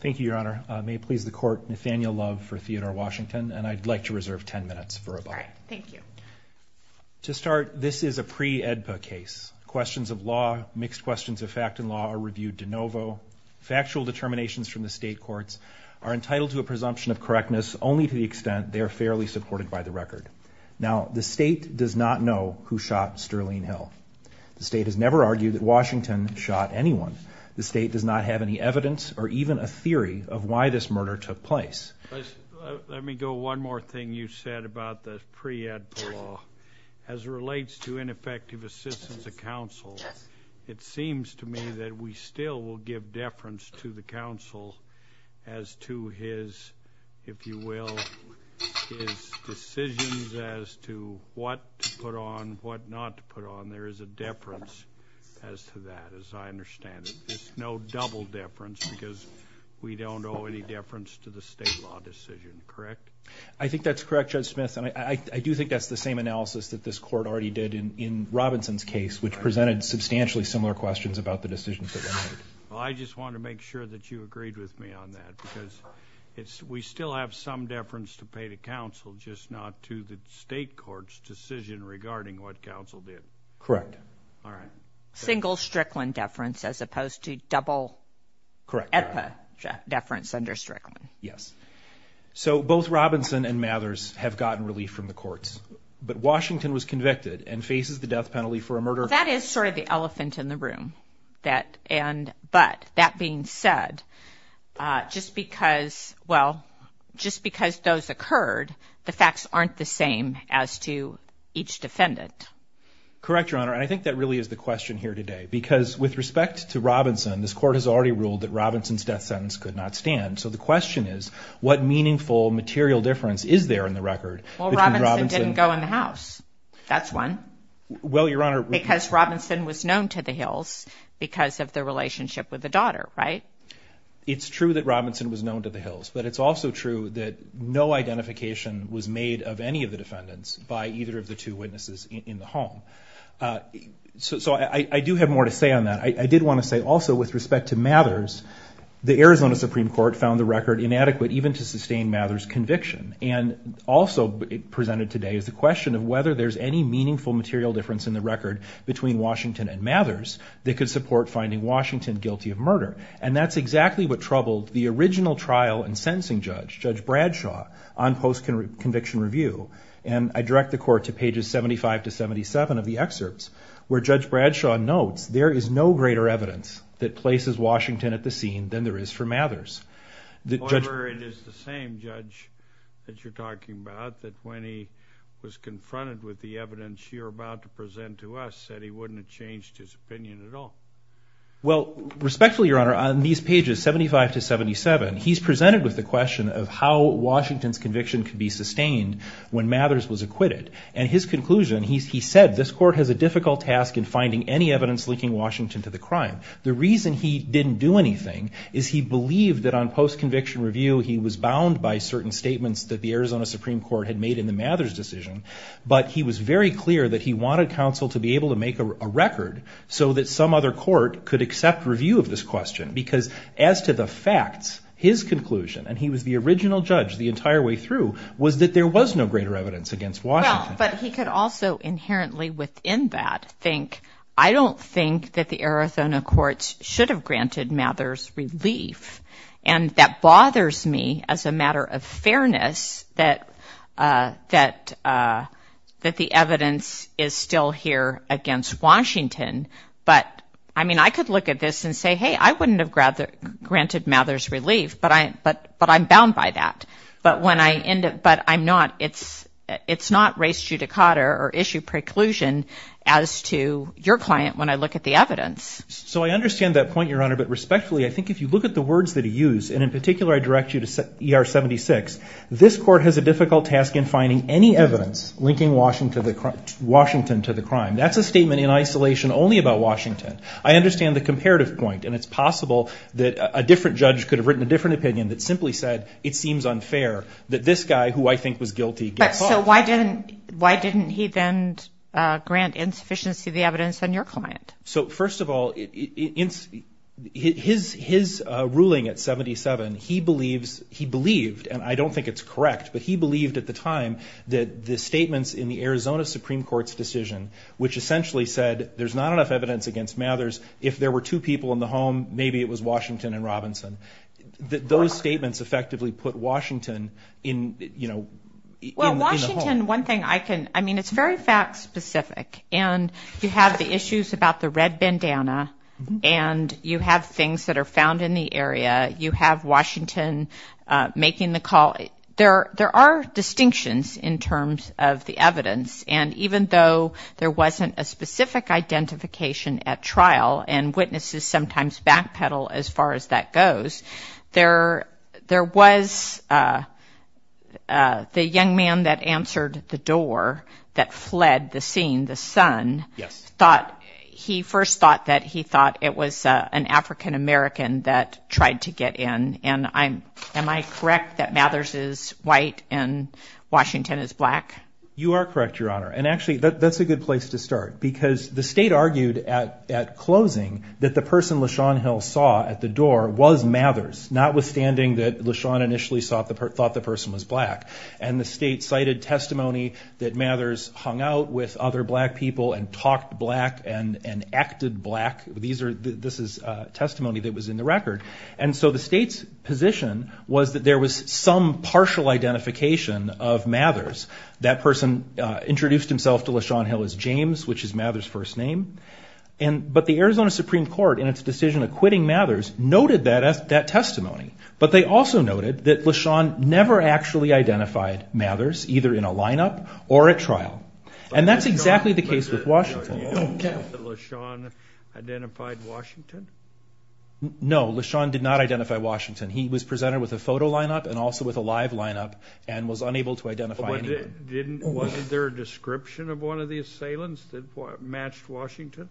Thank you, Your Honor. May it please the court, Nathaniel Love for Theodore Washington, and I'd like to reserve 10 minutes for a buck. All right. Thank you. To start, this is a pre-AEDPA case. Questions of law, mixed questions of fact and law, are reviewed de novo. Factual determinations from the state courts are entitled to a presumption of correctness only to the extent they are fairly supported by the record. Now, the state does not know who shot Sterling Hill. The state has never argued that Washington shot anyone. The state does not have any evidence or even a theory of why this murder took place. Let me go one more thing you said about the pre-AEDPA law. As it relates to ineffective assistance to counsel, it seems to me that we still will give deference to the counsel as to his, if you will, his decisions as to what to put on, what not to put on. There is a deference as to that, as I understand it. There's no double deference because we don't owe any deference to the state law decision, correct? I think that's correct, Judge Smith, and I do think that's the same analysis that this court already did in Robinson's case, which presented substantially similar questions about the decisions that were made. Well, I just want to make sure that you agreed with me on that because we still have some deference to pay to counsel, just not to the state court's decision regarding what counsel did. Correct. All right. Single Strickland deference as opposed to double AEDPA deference under Strickland. Yes. So both Robinson and Mathers have gotten relief from the courts, but Washington was convicted and faces the death penalty for a murder. Well, that is sort of the elephant in the room. But that being said, just because, well, just because those occurred, the facts aren't the same as to each defendant. Correct, Your Honor, and I think that really is the question here today because with respect to Robinson, this court has already ruled that Robinson's death sentence could not stand. So the question is, what meaningful material difference is there in the record? Well, Robinson didn't go in the house. That's one. Well, Your Honor. Because Robinson was known to the Hills because of the relationship with the daughter, right? It's true that Robinson was known to the Hills, but it's also true that no identification was made of any of the defendants by either of the two witnesses in the home. So I do have more to say on that. I did want to say also with respect to Mathers, the Arizona Supreme Court found the record inadequate even to sustain Mathers' conviction. And also presented today is the question of whether there's any meaningful material difference in the record between Washington and Mathers that could support finding Washington guilty of murder. And that's exactly what troubled the original trial and sentencing judge, Judge Bradshaw, on post-conviction review. And I direct the court to pages 75 to 77 of the excerpts where Judge Bradshaw notes there is no greater evidence that places However, it is the same judge that you're talking about that when he was confronted with the evidence you're about to present to us, said he wouldn't have changed his opinion at all. Well, respectfully, Your Honor, on these pages, 75 to 77, he's presented with the question of how Washington's conviction could be sustained when Mathers was acquitted. And his conclusion, he said, this court has a difficult task in finding any evidence linking Washington to the crime. The reason he didn't do anything is he believed that on post-conviction review, he was bound by certain statements that the Arizona Supreme Court had made in the Mathers decision. But he was very clear that he wanted counsel to be able to make a record so that some other court could accept review of this question. Because as to the facts, his conclusion, and he was the original judge the entire way through, was that there was no greater evidence against Washington. Well, but he could also inherently within that think, I don't think that the Arizona courts should have granted Mathers relief. And that bothers me as a matter of fairness that the evidence is still here against Washington. But, I mean, I could look at this and say, hey, I wouldn't have granted Mathers relief, but I'm bound by that. But it's not res judicata or issue preclusion as to your client when I look at the evidence. So I understand that point, Your Honor. But respectfully, I think if you look at the words that he used, and in particular I direct you to ER 76, this court has a difficult task in finding any evidence linking Washington to the crime. That's a statement in isolation only about Washington. I understand the comparative point, and it's possible that a different judge could have written a different opinion that simply said it seems unfair that this guy, who I think was guilty, get caught. But so why didn't he then grant insufficiency of the evidence on your client? So, first of all, his ruling at 77, he believes, he believed, and I don't think it's correct, but he believed at the time that the statements in the Arizona Supreme Court's decision, which essentially said there's not enough evidence against Mathers. If there were two people in the home, maybe it was Washington and Robinson. Those statements effectively put Washington in, you know, in the home. Well, Washington, one thing I can, I mean, it's very fact specific. And you have the issues about the red bandana, and you have things that are found in the area. You have Washington making the call. There are distinctions in terms of the evidence. And even though there wasn't a specific identification at trial, and witnesses sometimes backpedal as far as that goes, there was the young man that answered the door that fled the scene, the son. Yes. Thought, he first thought that he thought it was an African American that tried to get in. And I'm, am I correct that Mathers is white and Washington is black? You are correct, Your Honor. And actually that's a good place to start because the state argued at closing that the person LaShawn Hill saw at the door was Mathers, notwithstanding that LaShawn initially thought the person was black. And the state cited testimony that Mathers hung out with other black people and talked black and acted black. These are, this is testimony that was in the record. And so the state's position was that there was some partial identification of Mathers. That person introduced himself to LaShawn Hill as James, which is Mathers' first name. But the Arizona Supreme Court, in its decision acquitting Mathers, noted that testimony. But they also noted that LaShawn never actually identified Mathers, either in a lineup or at trial. And that's exactly the case with Washington. Okay. Did LaShawn identify Washington? No, LaShawn did not identify Washington. He was presented with a photo lineup and also with a live lineup and was unable to identify anyone. Wasn't there a description of one of the assailants that matched Washington?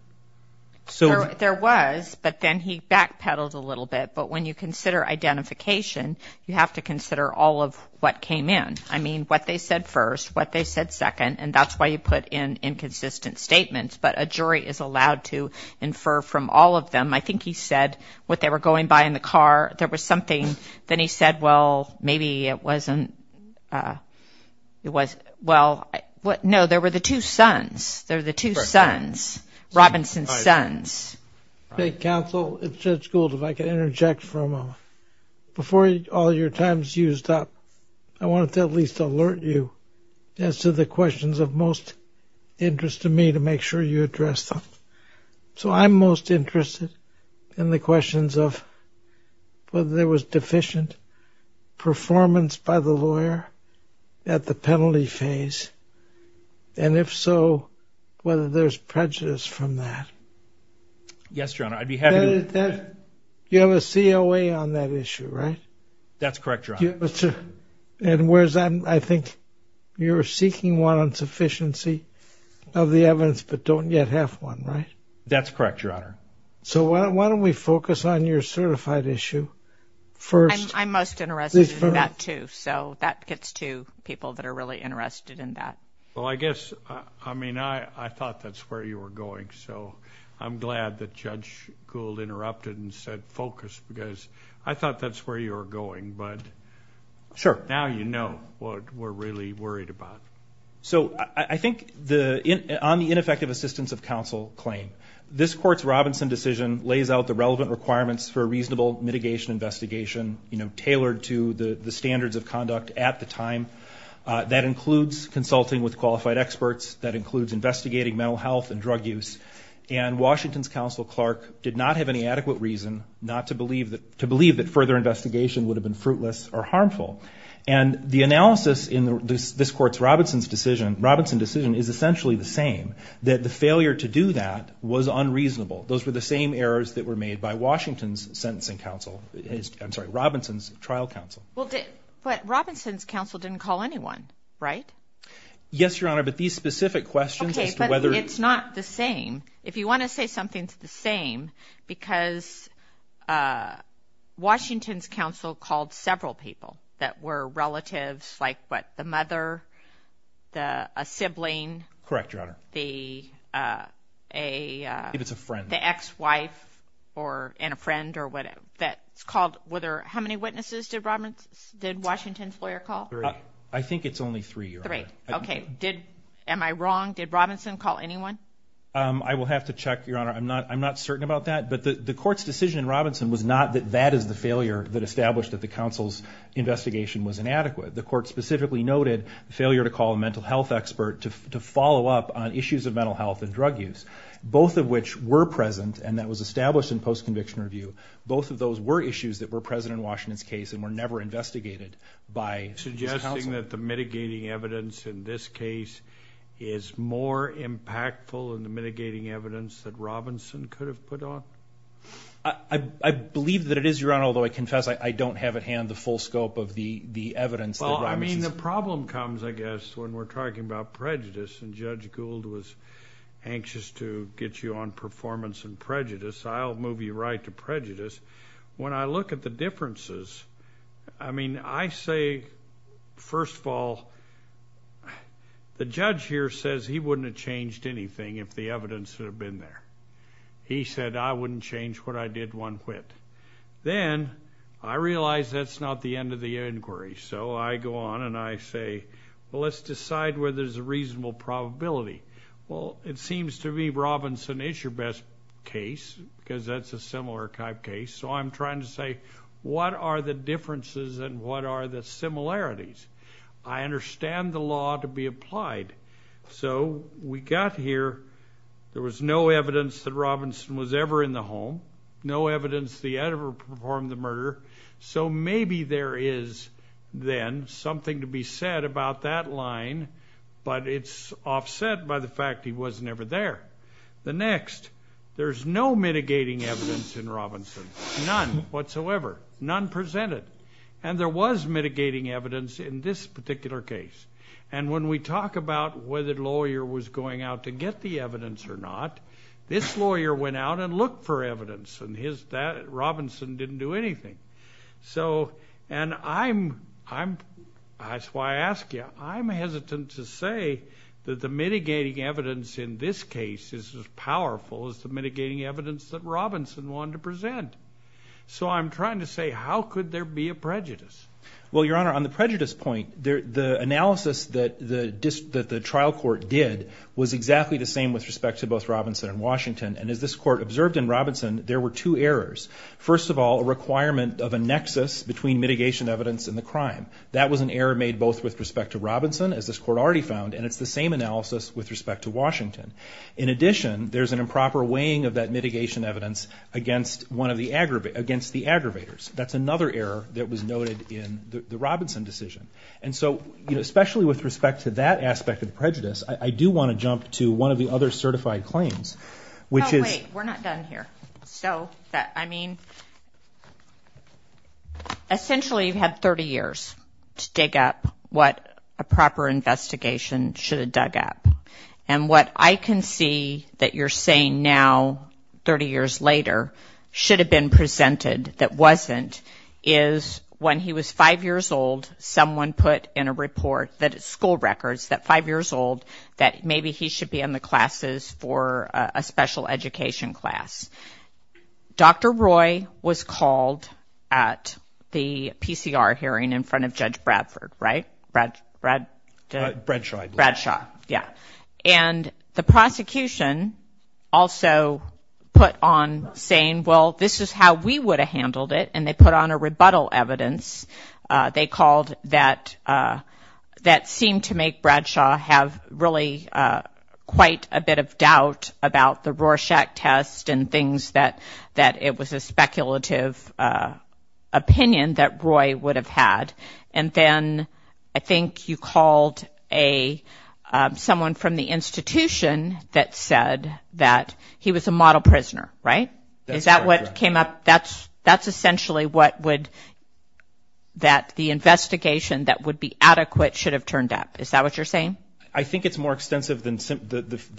There was, but then he backpedaled a little bit. But when you consider identification, you have to consider all of what came in. I mean, what they said first, what they said second, and that's why you put in inconsistent statements. But a jury is allowed to infer from all of them. I think he said what they were going by in the car, there was something. Then he said, well, maybe it wasn't. Well, no, there were the two sons. There were the two sons, Robinson's sons. Counsel, it's Judge Gould. If I could interject for a moment. Before all your time is used up, I wanted to at least alert you as to the questions of most interest to me to make sure you address them. So I'm most interested in the questions of whether there was deficient performance by the lawyer at the penalty phase. And if so, whether there's prejudice from that. Yes, Your Honor, I'd be happy to. You have a COA on that issue, right? That's correct, Your Honor. And whereas I think you're seeking one on sufficiency of the evidence but don't yet have one, right? That's correct, Your Honor. So why don't we focus on your certified issue first. I'm most interested in that too. So that gets to people that are really interested in that. Well, I guess, I mean, I thought that's where you were going. So I'm glad that Judge Gould interrupted and said focus because I thought that's where you were going. But now you know what we're really worried about. So I think on the ineffective assistance of counsel claim, this Court's Robinson decision lays out the relevant requirements for a reasonable mitigation investigation, you know, tailored to the standards of conduct at the time. That includes consulting with qualified experts. That includes investigating mental health and drug use. And Washington's counsel, Clark, did not have any adequate reason to believe that further investigation would have been fruitless or harmful. And the analysis in this Court's Robinson decision is essentially the same, that the failure to do that was unreasonable. Those were the same errors that were made by Washington's sentencing counsel. I'm sorry, Robinson's trial counsel. But Robinson's counsel didn't call anyone, right? Yes, Your Honor, but these specific questions as to whether he... Okay, but it's not the same. If you want to say something's the same, because Washington's counsel called several people. That were relatives, like, what, the mother, a sibling... Correct, Your Honor. The ex-wife and a friend or whatever. That's called whether... How many witnesses did Washington's lawyer call? Three. I think it's only three, Your Honor. Three, okay. Am I wrong? Did Robinson call anyone? I will have to check, Your Honor. I'm not certain about that. But the Court's decision in Robinson was not that that is the failure that established that the counsel's investigation was inadequate. The Court specifically noted the failure to call a mental health expert to follow up on issues of mental health and drug use. Both of which were present, and that was established in post-conviction review. Both of those were issues that were present in Washington's case and were never investigated by his counsel. Suggesting that the mitigating evidence in this case is more impactful than the mitigating evidence that Robinson could have put on? I believe that it is, Your Honor, although I confess I don't have at hand the full scope of the evidence that Robinson's... Well, I mean, the problem comes, I guess, when we're talking about prejudice, and Judge Gould was anxious to get you on performance and prejudice. I'll move you right to prejudice. When I look at the differences, I mean, I say, first of all, the judge here says he wouldn't have changed anything if the evidence had been there. He said, I wouldn't change what I did one quit. Then I realize that's not the end of the inquiry, so I go on and I say, well, let's decide whether there's a reasonable probability. Well, it seems to me Robinson is your best case, because that's a similar type case, so I'm trying to say, what are the differences and what are the similarities? I understand the law to be applied, so we got here, there was no evidence that Robinson was ever in the home, no evidence that he ever performed the murder, so maybe there is then something to be said about that line, but it's offset by the fact he was never there. The next, there's no mitigating evidence in Robinson, none whatsoever, none presented, and there was mitigating evidence in this particular case, and when we talk about whether the lawyer was going out to get the evidence or not, this lawyer went out and looked for evidence, and Robinson didn't do anything. And that's why I ask you, I'm hesitant to say that the mitigating evidence in this case is as powerful as the mitigating evidence that Robinson wanted to present, so I'm trying to say, how could there be a prejudice? Well, Your Honor, on the prejudice point, the analysis that the trial court did was exactly the same with respect to both Robinson and Washington, and as this court observed in Robinson, there were two errors. First of all, a requirement of a nexus between mitigation evidence and the crime. That was an error made both with respect to Robinson, as this court already found, and it's the same analysis with respect to Washington. In addition, there's an improper weighing of that mitigation evidence against the aggravators. That's another error that was noted in the Robinson decision. And so, especially with respect to that aspect of the prejudice, I do want to jump to one of the other certified claims, which is... Oh, wait, we're not done here. So, I mean, essentially you've had 30 years to dig up what a proper investigation should have dug up, and what I can see that you're saying now, 30 years later, should have been presented that wasn't, is when he was 5 years old, someone put in a report that at school records, that 5 years old, that maybe he should be in the classes for a special education class. Dr. Roy was called at the PCR hearing in front of Judge Bradford, right? Bradshaw. Yeah. And the prosecution also put on saying, well, this is how we would have handled it, and they put on a rebuttal evidence, they called, that seemed to make Bradshaw have really quite a bit of doubt about the Rorschach test and things, that it was a speculative opinion that Roy would have had. And then I think you called someone from the institution that said that he was a model prisoner, right? Is that what came up? That's essentially what would, that the investigation that would be adequate should have turned up. Is that what you're saying? I think it's more extensive than...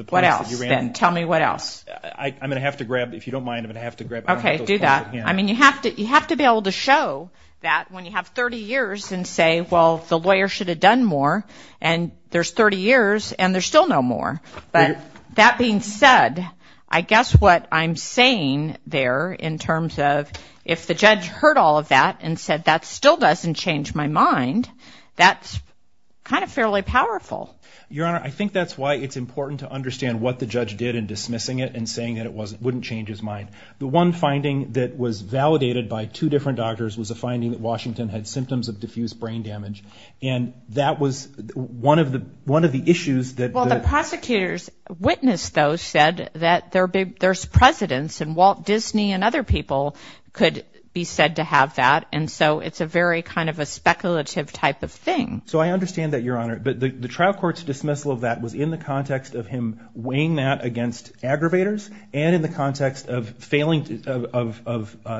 What else, then? Tell me what else. I'm going to have to grab, if you don't mind, I'm going to have to grab... Okay, do that. I mean, you have to be able to show that when you have 30 years and say, well, the lawyer should have done more, and there's 30 years and there's still no more. But that being said, I guess what I'm saying there in terms of if the judge heard all of that and said that still doesn't change my mind, that's kind of fairly powerful. Your Honor, I think that's why it's important to understand what the judge did in dismissing it and saying that it wouldn't change his mind. The one finding that was validated by two different doctors was a finding that Washington had symptoms of diffuse brain damage. And that was one of the issues that... Well, the prosecutor's witness, though, said that there's precedence and Walt Disney and other people could be said to have that. And so it's a very kind of a speculative type of thing. So I understand that, Your Honor. But the trial court's dismissal of that was in the context of him weighing that against aggravators and in the context of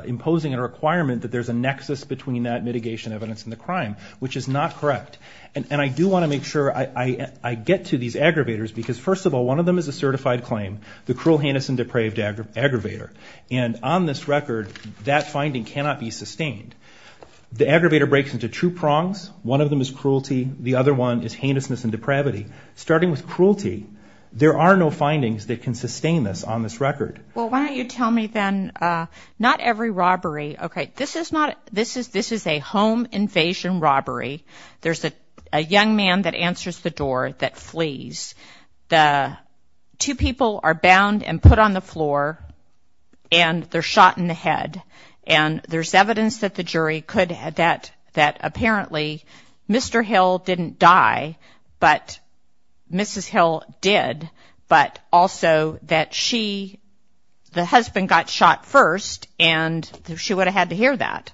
imposing a requirement that there's a nexus between that mitigation evidence and the crime, which is not correct. And I do want to make sure I get to these aggravators because, first of all, one of them is a certified claim, the cruel, heinous, and depraved aggravator. And on this record, that finding cannot be sustained. The aggravator breaks into two prongs. One of them is cruelty. The other one is heinousness and depravity. Starting with cruelty, there are no findings that can sustain this on this record. Well, why don't you tell me, then, not every robbery... Okay, this is not... This is a home invasion robbery. There's a young man that answers the door that flees. The two people are bound and put on the floor, and they're shot in the head. And there's evidence that the jury could... that apparently Mr. Hill didn't die, but Mrs. Hill did, but also that she, the husband, got shot first, and she would have had to hear that.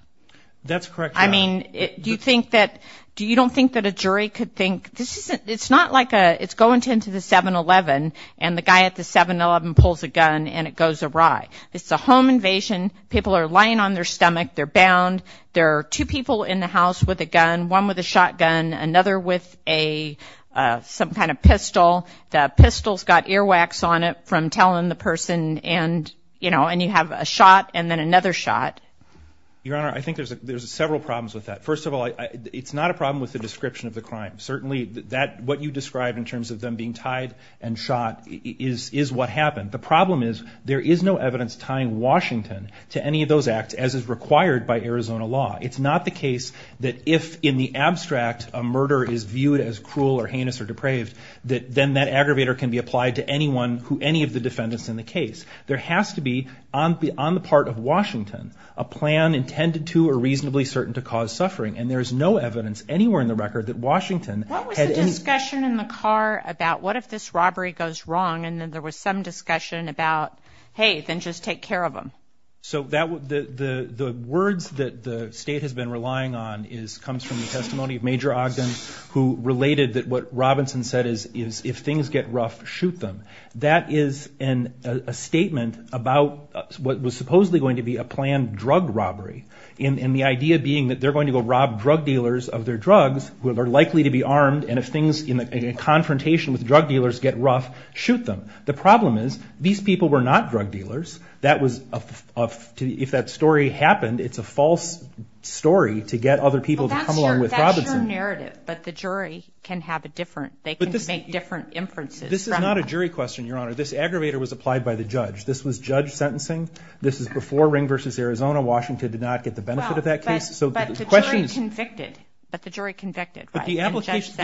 That's correct, yes. I mean, do you think that... Do you don't think that a jury could think... This isn't... It's not like a... It's going into the 7-Eleven, and the guy at the 7-Eleven pulls a gun, and it goes awry. It's a home invasion. People are lying on their stomach. They're bound. There are two people in the house with a gun, one with a shotgun, another with a... some kind of pistol. The pistol's got earwax on it from telling the person, and, you know, and you have a shot and then another shot. Your Honor, I think there's several problems with that. First of all, it's not a problem with the description of the crime. Certainly, what you describe in terms of them being tied and shot is what happened. The problem is there is no evidence tying Washington to any of those acts, as is required by Arizona law. It's not the case that if, in the abstract, a murder is viewed as cruel or heinous or depraved, that then that aggravator can be applied to anyone who any of the defendants in the case. There has to be, on the part of Washington, a plan intended to or reasonably certain to cause suffering, and there is no evidence anywhere in the record that Washington... What was the discussion in the car about, what if this robbery goes wrong, and then there was some discussion about, hey, then just take care of them? So the words that the state has been relying on comes from the testimony of Major Ogden, who related that what Robinson said is, if things get rough, shoot them. That is a statement about what was supposedly going to be a planned drug robbery, and the idea being that they're going to go rob drug dealers of their drugs, who are likely to be armed, and if things in confrontation with drug dealers get rough, shoot them. The problem is, these people were not drug dealers. That was a... If that story happened, it's a false story to get other people to come along with Robinson. Well, that's your narrative, but the jury can have a different... They can make different inferences. This is not a jury question, Your Honor. This aggravator was applied by the judge. This was judge sentencing. This is before Ring v. Arizona. Washington did not get the benefit of that case. But the jury convicted, right? But the application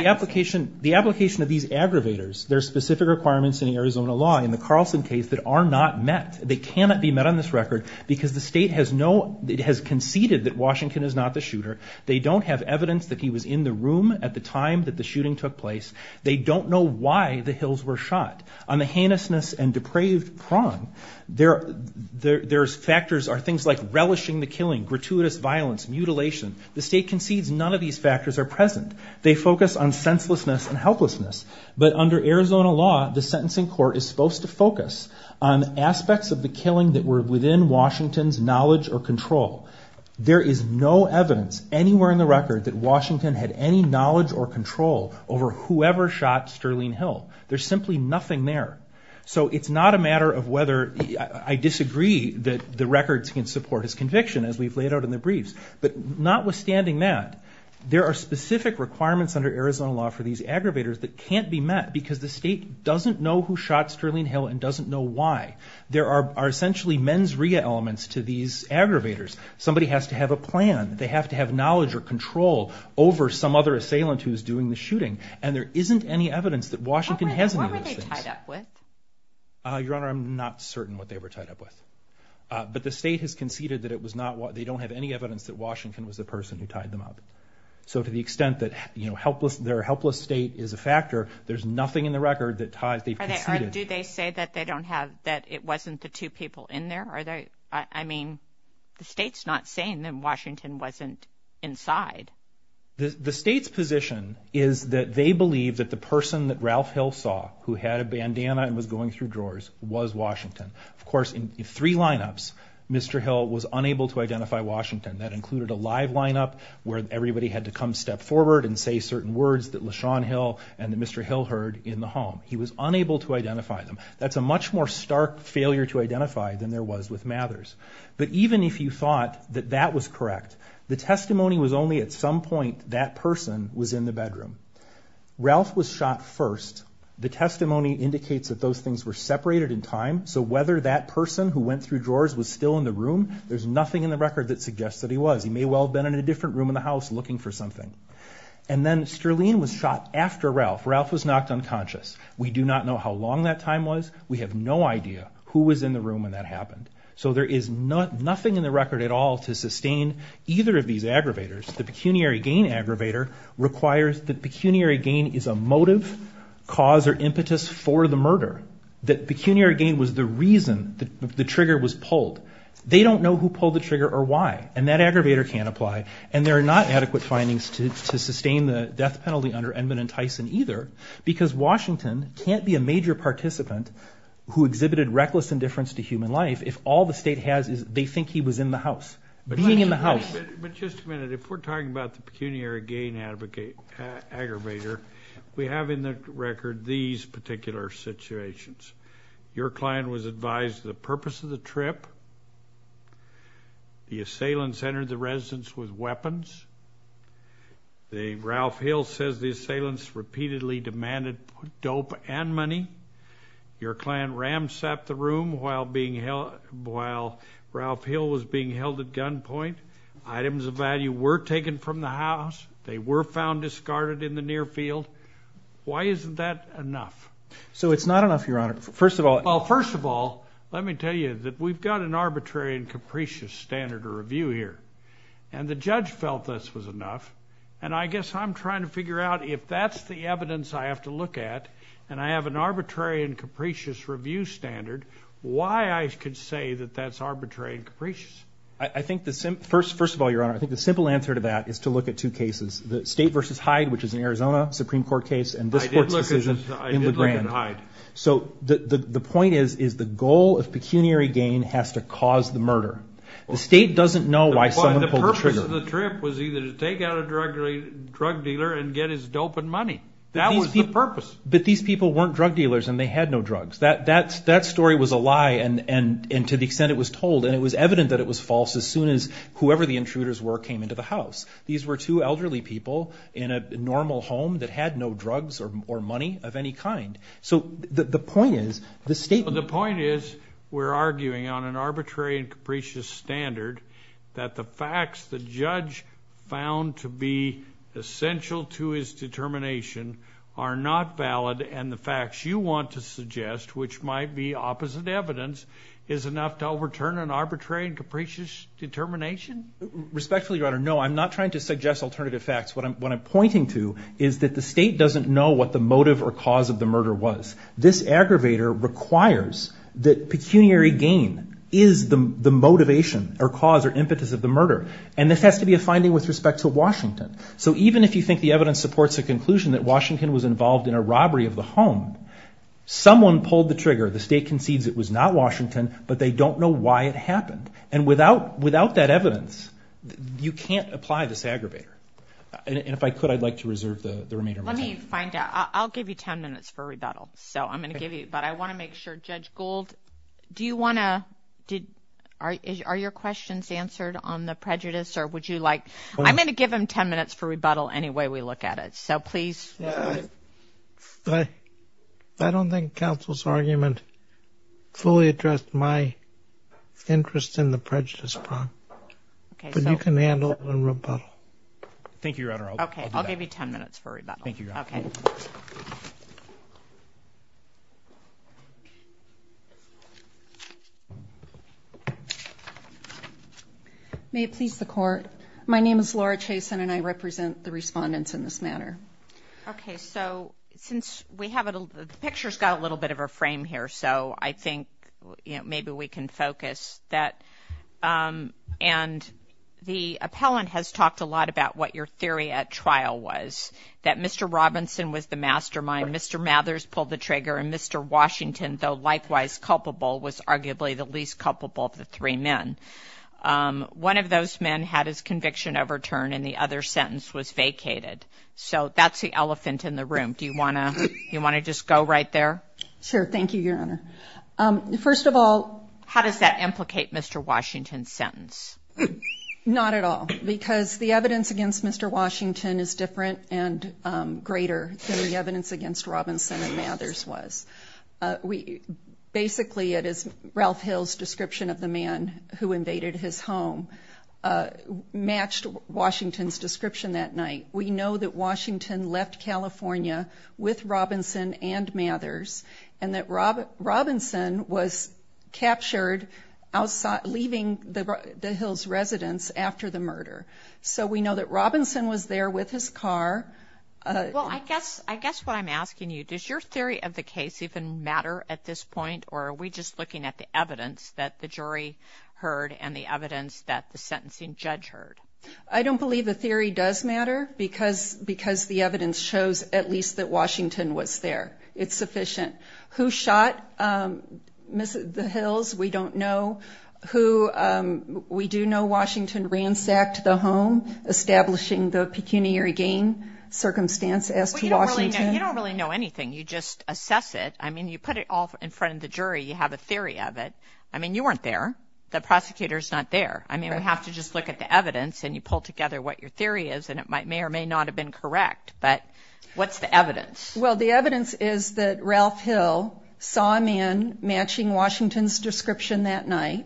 of these aggravators, there are specific requirements in Arizona law, in the Carlson case, that are not met. They cannot be met on this record, because the state has conceded that Washington is not the shooter. They don't have evidence that he was in the room at the time that the shooting took place. They don't know why the Hills were shot. On the heinousness and depraved prong, there's factors, things like relishing the killing, gratuitous violence, mutilation. The state concedes none of these factors are present. They focus on senselessness and helplessness. But under Arizona law, the sentencing court is supposed to focus on aspects of the killing that were within Washington's knowledge or control. There is no evidence anywhere in the record that Washington had any knowledge or control over whoever shot Sterling Hill. There's simply nothing there. So it's not a matter of whether I disagree that the records can support his conviction, as we've laid out in the briefs. But notwithstanding that, there are specific requirements under Arizona law for these aggravators that can't be met because the state doesn't know who shot Sterling Hill and doesn't know why. There are essentially mens rea elements to these aggravators. Somebody has to have a plan. They have to have knowledge or control over some other assailant who's doing the shooting. And there isn't any evidence that Washington has any of those things. What were they tied up with? Your Honor, I'm not certain what they were tied up with. But the state has conceded that they don't have any evidence that Washington was the person who tied them up. So to the extent that their helpless state is a factor, there's nothing in the record that they've conceded. Do they say that it wasn't the two people in there? I mean, the state's not saying that Washington wasn't inside. The state's position is that they believe that the person that Ralph Hill saw who had a bandana and was going through drawers was Washington. Of course, in three lineups, Mr. Hill was unable to identify Washington. That included a live lineup where everybody had to come step forward and say certain words that LaShawn Hill and Mr. Hill heard in the home. He was unable to identify them. That's a much more stark failure to identify than there was with Mathers. But even if you thought that that was correct, the testimony was only at some point that person was in the bedroom. Ralph was shot first. The testimony indicates that those things were separated in time. So whether that person who went through drawers was still in the room, there's nothing in the record that suggests that he was. He may well have been in a different room in the house looking for something. And then Sterling was shot after Ralph. Ralph was knocked unconscious. We do not know how long that time was. We have no idea who was in the room when that happened. So there is nothing in the record at all to sustain either of these aggravators. The pecuniary gain aggravator requires that pecuniary gain is a motive, cause, or impetus for the murder, that pecuniary gain was the reason the trigger was pulled. They don't know who pulled the trigger or why. And that aggravator can't apply. And there are not adequate findings to sustain the death penalty under Edmund and Tyson either, because Washington can't be a major participant who exhibited reckless indifference to human life if all the state has is they think he was in the house. Being in the house. But just a minute. If we're talking about the pecuniary gain aggravator, we have in the record these particular situations. Your client was advised the purpose of the trip. The assailants entered the residence with weapons. Ralph Hill says the assailants repeatedly demanded dope and money. Your client ram-sapped the room while Ralph Hill was being held at gunpoint. Items of value were taken from the house. They were found discarded in the near field. Why isn't that enough? So it's not enough, Your Honor. First of all. Well, first of all, let me tell you that we've got an arbitrary and capricious standard of review here. And the judge felt this was enough. And I guess I'm trying to figure out if that's the evidence I have to look at and I have an arbitrary and capricious review standard, why I could say that that's arbitrary and capricious. I think the simple answer to that is to look at two cases. The state versus Hyde, which is an Arizona Supreme Court case, and this court's decision in LeGrand. I did look at Hyde. So the point is the goal of pecuniary gain has to cause the murder. The state doesn't know why someone pulled the trigger. The purpose of the trip was either to take out a drug dealer and get his dope and money. That was the purpose. But these people weren't drug dealers and they had no drugs. That story was a lie, and to the extent it was told, and it was evident that it was false as soon as whoever the intruders were came into the house. These were two elderly people in a normal home that had no drugs or money of any kind. So the point is, the statement. The point is we're arguing on an arbitrary and capricious standard that the facts the judge found to be essential to his determination are not valid and the facts you want to suggest, which might be opposite evidence, is enough to overturn an arbitrary and capricious determination? Respectfully, Your Honor, no. I'm not trying to suggest alternative facts. What I'm pointing to is that the state doesn't know what the motive or cause of the murder was. This aggravator requires that pecuniary gain is the motivation or cause or impetus of the murder, and this has to be a finding with respect to Washington. So even if you think the evidence supports the conclusion that Washington was involved in a robbery of the home, someone pulled the trigger. The state concedes it was not Washington, but they don't know why it happened. And without that evidence, you can't apply this aggravator. And if I could, I'd like to reserve the remainder of my time. Let me find out. I'll give you 10 minutes for rebuttal, so I'm going to give you, but I want to make sure. Judge Gould, do you want to – are your questions answered on the prejudice or would you like – I'm going to give him 10 minutes for rebuttal any way we look at it, so please. I don't think counsel's argument fully addressed my interest in the prejudice problem, but you can handle the rebuttal. Thank you, Your Honor. Okay, I'll give you 10 minutes for rebuttal. Thank you, Your Honor. Okay. May it please the Court. My name is Laura Chason, and I represent the respondents in this matter. Okay, so since we have – the picture's got a little bit of a frame here, so I think maybe we can focus that. And the appellant has talked a lot about what your theory at trial was, that Mr. Robinson was the mastermind, Mr. Mathers pulled the trigger, and Mr. Washington, though likewise culpable, was arguably the least culpable of the three men. One of those men had his conviction overturned and the other's sentence was vacated. So that's the elephant in the room. Do you want to just go right there? Sure, thank you, Your Honor. First of all, how does that implicate Mr. Washington's sentence? Not at all, because the evidence against Mr. Washington is different and greater than the evidence against Robinson and Mathers was. Basically, it is Ralph Hill's description of the man who invaded his home matched Washington's description that night. We know that Washington left California with Robinson and Mathers and that Robinson was captured leaving the Hills residence after the murder. So we know that Robinson was there with his car. Well, I guess what I'm asking you, does your theory of the case even matter at this point or are we just looking at the evidence that the jury heard and the evidence that the sentencing judge heard? I don't believe the theory does matter because the evidence shows at least that Washington was there. It's sufficient. Who shot the Hills, we don't know. We do know Washington ransacked the home, establishing the pecuniary gang circumstance as to Washington. Well, you don't really know anything. You just assess it. I mean, you put it all in front of the jury. You have a theory of it. I mean, you weren't there. The prosecutor's not there. I mean, we have to just look at the evidence and you pull together what your theory is and it may or may not have been correct, but what's the evidence? Well, the evidence is that Ralph Hill saw a man matching Washington's description that night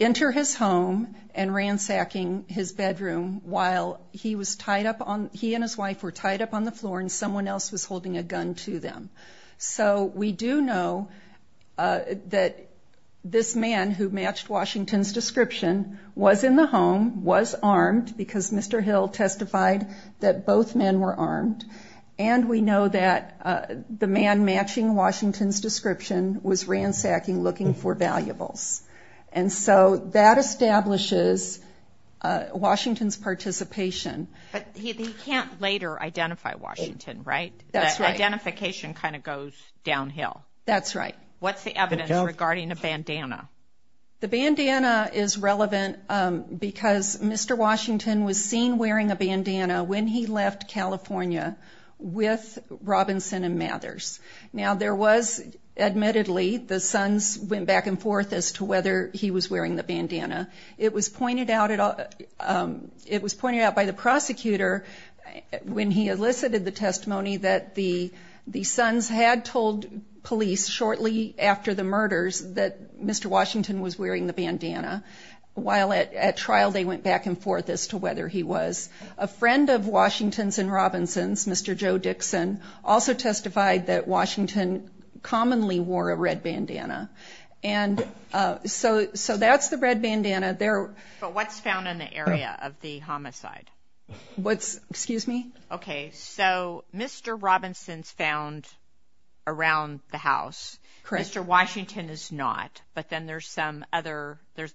enter his home and ransacking his bedroom while he was tied up on, he and his wife were tied up on the floor and someone else was holding a gun to them. So we do know that this man who matched Washington's description was in the home, was armed because Mr. Hill testified that both men were armed and we know that the man matching Washington's description was ransacking looking for valuables. And so that establishes Washington's participation. But he can't later identify Washington, right? That's right. That identification kind of goes downhill. That's right. What's the evidence regarding a bandana? The bandana is relevant because Mr. Washington was seen wearing a bandana when he left California with Robinson and Mathers. Now there was, admittedly, the sons went back and forth as to whether he was wearing the bandana. It was pointed out by the prosecutor when he elicited the testimony that the sons had told police shortly after the murders that Mr. Washington was wearing the bandana. While at trial they went back and forth as to whether he was. A friend of Washington's and Robinson's, Mr. Joe Dixon, also testified that Washington commonly wore a red bandana. And so that's the red bandana. But what's found in the area of the homicide? Excuse me? Okay, so Mr. Robinson's found around the house. Mr. Washington is not. But then there's the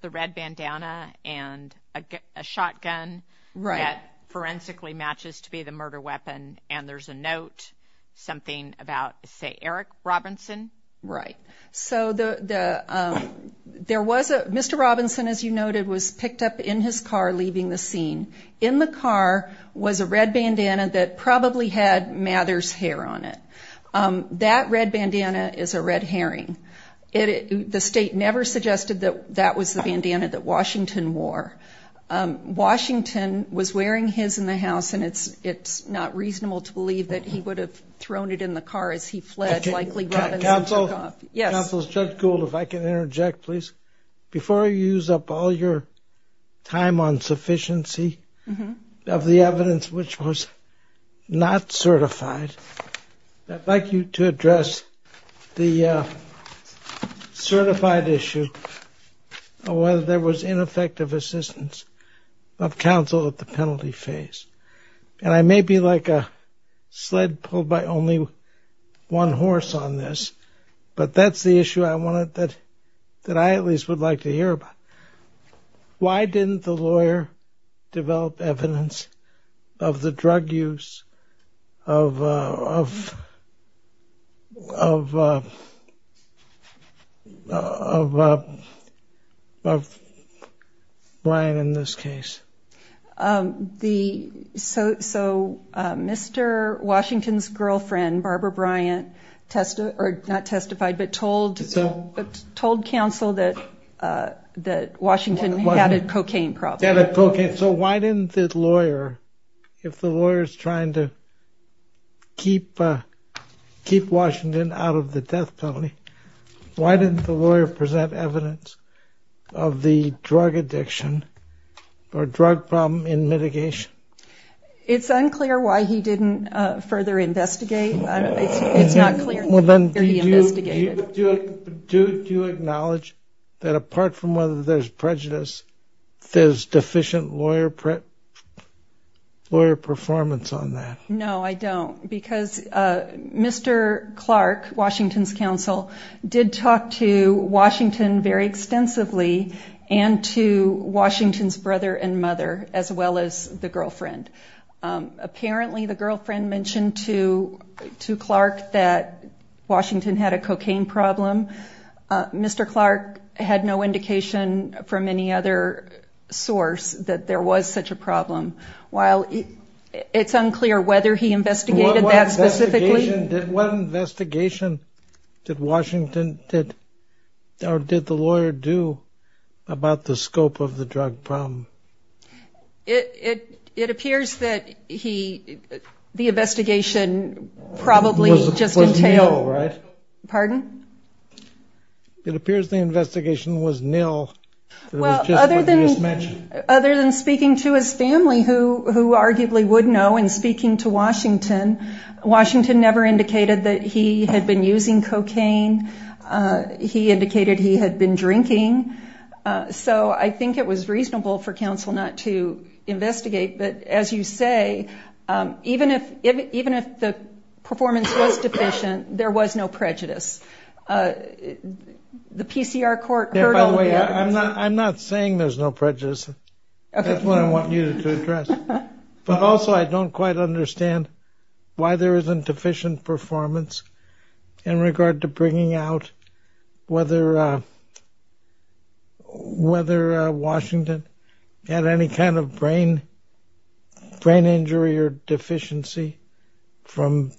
red bandana and a shotgun that forensically matches to be the murder weapon, and there's a note, something about, say, Eric Robinson. Right. Mr. Robinson, as you noted, was picked up in his car leaving the scene. In the car was a red bandana that probably had Mathers' hair on it. That red bandana is a red herring. The state never suggested that that was the bandana that Washington wore. Washington was wearing his in the house, and it's not reasonable to believe that he would have thrown it in the car as he fled, likely Robinson took off. Counsel, Judge Gould, if I can interject, please. Before you use up all your time on sufficiency of the evidence, which was not certified, I'd like you to address the certified issue of whether there was ineffective assistance of counsel at the penalty phase. And I may be like a sled pulled by only one horse on this, but that's the issue that I at least would like to hear about. Why didn't the lawyer develop evidence of the drug use of Brian in this case? So Mr. Washington's girlfriend, Barbara Bryant, not testified, but told counsel that Washington had a cocaine problem. So why didn't the lawyer, if the lawyer is trying to keep Washington out of the death penalty, why didn't the lawyer present evidence of the drug addiction or drug problem in mitigation? It's unclear why he didn't further investigate. It's not clear. Do you acknowledge that apart from whether there's prejudice, there's deficient lawyer performance on that? No, I don't. Because Mr. Clark, Washington's counsel, did talk to Washington very extensively and to Washington's brother and mother as well as the girlfriend. Apparently the girlfriend mentioned to Clark that Washington had a cocaine problem. Mr. Clark had no indication from any other source that there was such a problem. While it's unclear whether he investigated that specifically. What investigation did Washington or did the lawyer do about the scope of the drug problem? It appears that the investigation probably just entailed. Was nil, right? Pardon? It appears the investigation was nil. Well, other than speaking to his family, who arguably would know, and speaking to Washington, Washington never indicated that he had been using cocaine. He indicated he had been drinking. So I think it was reasonable for counsel not to investigate. But as you say, even if the performance was deficient, there was no prejudice. The PCR court heard of that. By the way, I'm not saying there's no prejudice. That's what I want you to address. But also I don't quite understand why there isn't deficient performance in regard to bringing out whether Washington had any kind of brain injury or deficiency from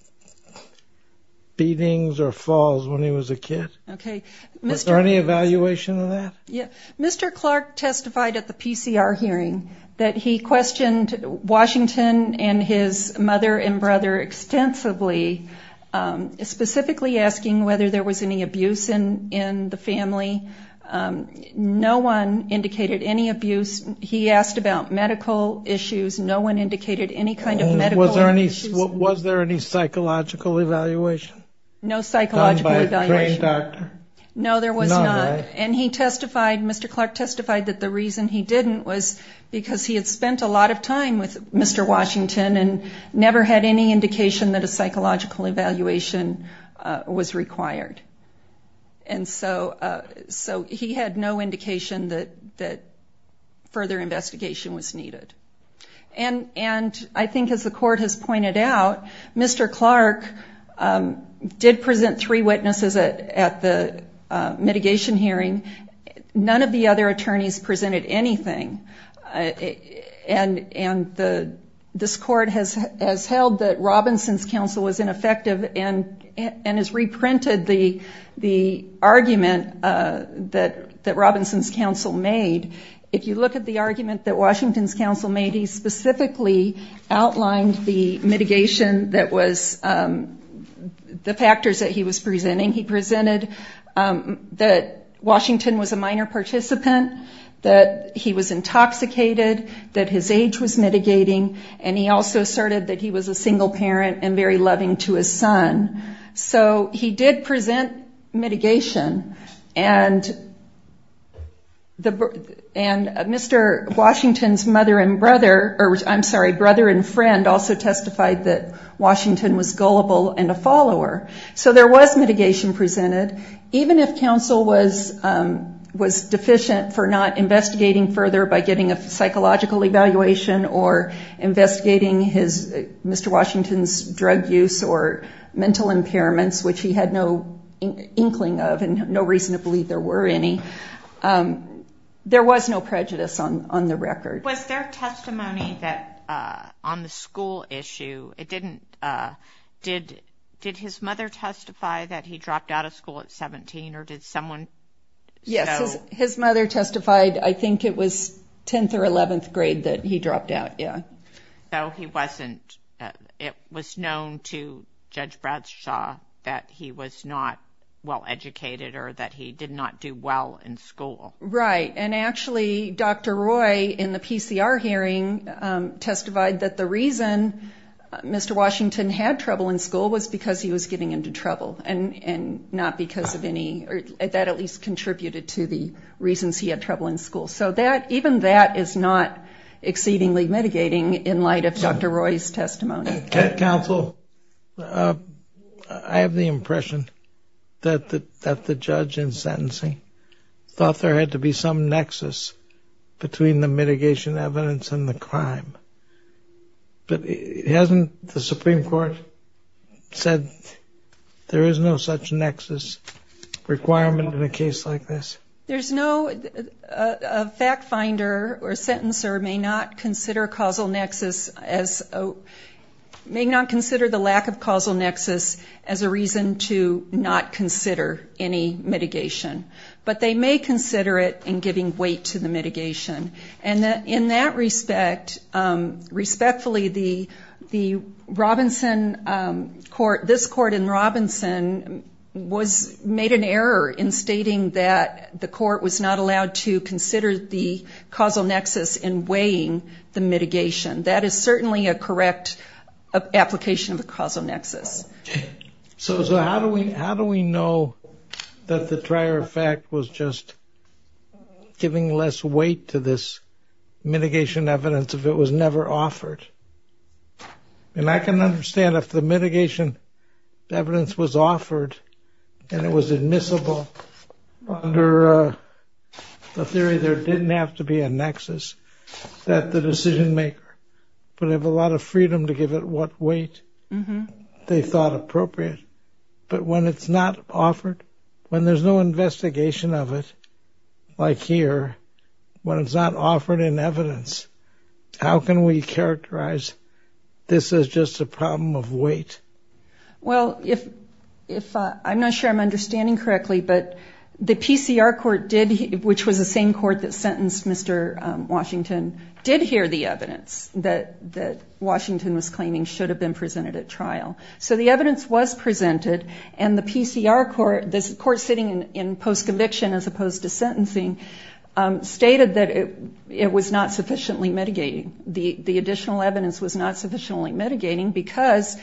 beatings or falls when he was a kid. Okay. Was there any evaluation of that? Yeah. Mr. Clark testified at the PCR hearing that he questioned Washington and his mother and brother extensively, specifically asking whether there was any abuse in the family. No one indicated any abuse. He asked about medical issues. No one indicated any kind of medical issues. Was there any psychological evaluation? No psychological evaluation. No, there was not. And he testified, Mr. Clark testified that the reason he didn't was because he had spent a lot of time with Mr. Clark was because no psychological evaluation was required. And so he had no indication that further investigation was needed. And I think, as the court has pointed out, Mr. Clark did present three witnesses at the mitigation hearing. None of the other attorneys presented anything. And this court has held that Robinson's counsel was ineffective and has reprinted the argument that Robinson's counsel made. If you look at the argument that Washington's counsel made, he specifically outlined the mitigation that was the factors that he was presenting. He presented that Washington was a minor participant, that he was intoxicated, that his age was mitigating, and he also asserted that he was a single parent and very loving to his son. So he did present mitigation. And Mr. Washington's mother and brother or, I'm sorry, brother and friend also testified that Washington was gullible and a follower. So there was mitigation presented. Even if counsel was deficient for not investigating further by getting a psychological evaluation or investigating Mr. Washington's drug use or mental impairments, which he had no inkling of and no reason to believe there were any, there was no prejudice on the record. Was there testimony that on the school issue, it didn't, did his mother testify that he dropped out of school at 17 or did someone? Yes, his mother testified. I think it was 10th or 11th grade that he dropped out, yeah. So he wasn't, it was known to Judge Bradshaw that he was not well-educated or that he did not do well in school. Right. And actually, Dr. Roy in the PCR hearing testified that the reason Mr. Washington had trouble in school was because he was getting into trouble and not because of any, or that at least contributed to the reasons he had trouble in school. So even that is not exceedingly mitigating in light of Dr. Roy's testimony. Counsel, I have the impression that the judge in sentencing thought there had to be some nexus between the mitigation evidence and the crime. But hasn't the Supreme Court said there is no such nexus requirement in a case like this? There's no, a fact finder or a sentencer may not consider causal nexus as, may not consider the lack of causal nexus as a reason to not consider any mitigation. But they may consider it in giving weight to the mitigation. And in that respect, respectfully, the Robinson court, this court in Robinson was, made an error in stating that the court was not allowed to consider the causal nexus in weighing the mitigation. That is certainly a correct application of the causal nexus. So, so how do we, how do we know that the prior fact was just giving less weight to this mitigation evidence if it was never offered? And I can understand if the mitigation evidence was offered and it was admissible under the theory there didn't have to be a nexus that the decision maker would have a lot of freedom to give it what weight. They thought appropriate. But when it's not offered, when there's no investigation of it, like here, when it's not offered in evidence, how can we characterize this as just a problem of weight? Well, if I'm not sure I'm understanding correctly, but the PCR court did, which was the same court that sentenced Mr. Washington, did hear the evidence that Washington was claiming should have been presented at trial. So the evidence was presented and the PCR court, this court sitting in post-conviction as opposed to sentencing, stated that it was not sufficiently mitigating. The additional evidence was not sufficiently mitigating because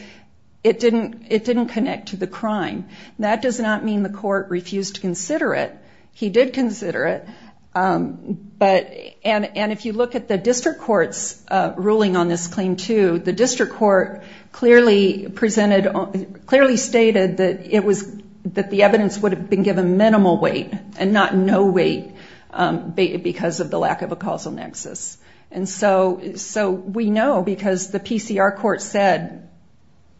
it didn't connect to the crime. That does not mean the court refused to consider it. He did consider it. But, and if you look at the district court's ruling on this claim too, the district court clearly presented, clearly stated that it was, that the evidence would have been given minimal weight and not no weight because of the lack of a causal nexus. And so, so we know because the PCR court said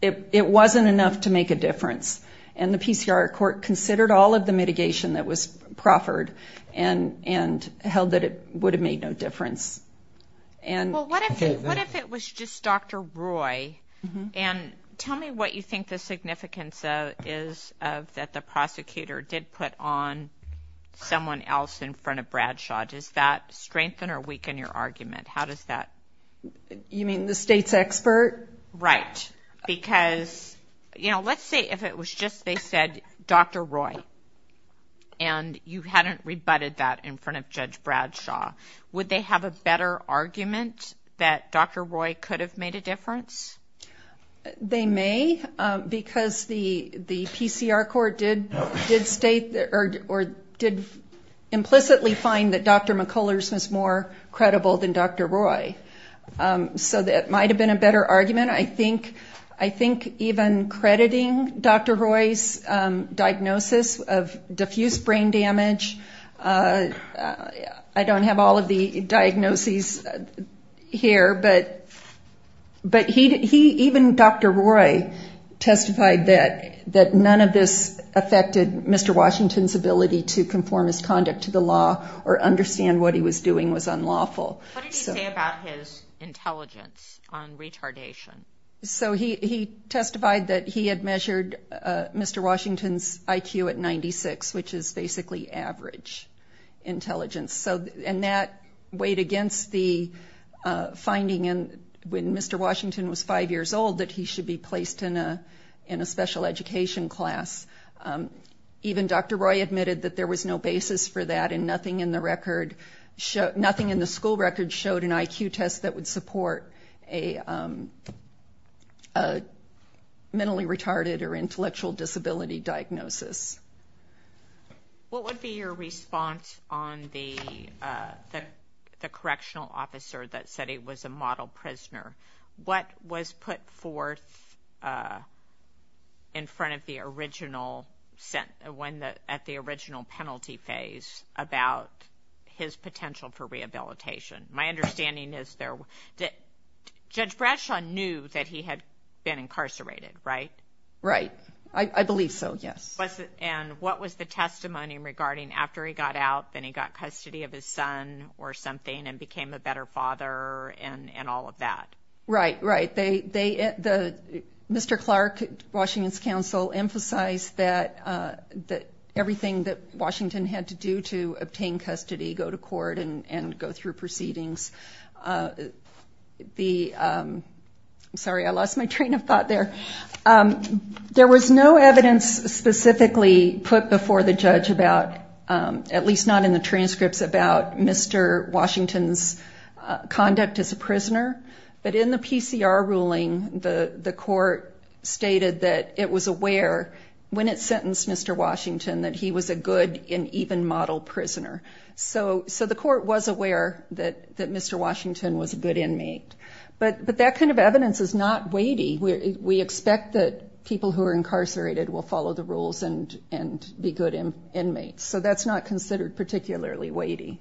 it, it wasn't enough to make a difference. And the PCR court considered all of the mitigation that was proffered and, and held that it would have made no difference. And what if it was just Dr. Roy? And tell me what you think the significance is of that. The prosecutor did put on someone else in front of Bradshaw. Does that strengthen or weaken your argument? How does that? You mean the state's expert? Right. Because, you know, let's say if it was just they said, Dr. Roy, and you hadn't rebutted that in front of Judge Bradshaw, would they have a better argument that Dr. Roy could have made a difference? They may, because the, the PCR court did, did state or did implicitly find that Dr. McCullers was more credible than Dr. Roy. So that might have been a better argument. I think, I think even crediting Dr. Roy's diagnosis of diffuse brain damage. I don't have all of the diagnoses here, but, but he, he, even Dr. Roy testified that, that none of this affected Mr. Washington's ability to conform his conduct to the law or understand what he was doing was unlawful. What did he say about his intelligence on retardation? So he, he testified that he had measured Mr. Washington's IQ at 96, which is basically average intelligence. So, and that weighed against the finding in when Mr. Washington was five years old that he should be placed in a, in a special education class. Even Dr. Roy admitted that there was no basis for that and nothing in the record showed, nothing in the school record showed an IQ test that would support a, a mentally retarded or intellectual disability diagnosis. What would be your response on the, the, the correctional officer that said he was a model prisoner? What was put forth in front of the original sent, when the, at the original penalty phase about his potential for rehabilitation? My understanding is there, Judge Bradshaw knew that he had been incarcerated, right? Right. I believe so, yes. And what was the testimony regarding after he got out, then he got custody of his son or something and became a better father and, and all of that? Right, right. They, they, the, Mr. Clark, Washington's counsel emphasized that, that everything that Washington had to do to obtain custody, go to court and, and go through proceedings. The, I'm sorry, I lost my train of thought there. There was no evidence specifically put before the judge about, at least not in the transcripts about Mr. Washington's conduct as a prisoner. But in the PCR ruling, the, the court stated that it was aware when it sentenced Mr. Washington that he was a good and even model prisoner. So, so the court was aware that, that Mr. Washington was a good inmate. But, but that kind of evidence is not weighty. We expect that people who are incarcerated will follow the rules and, and be good inmates. So that's not considered particularly weighty.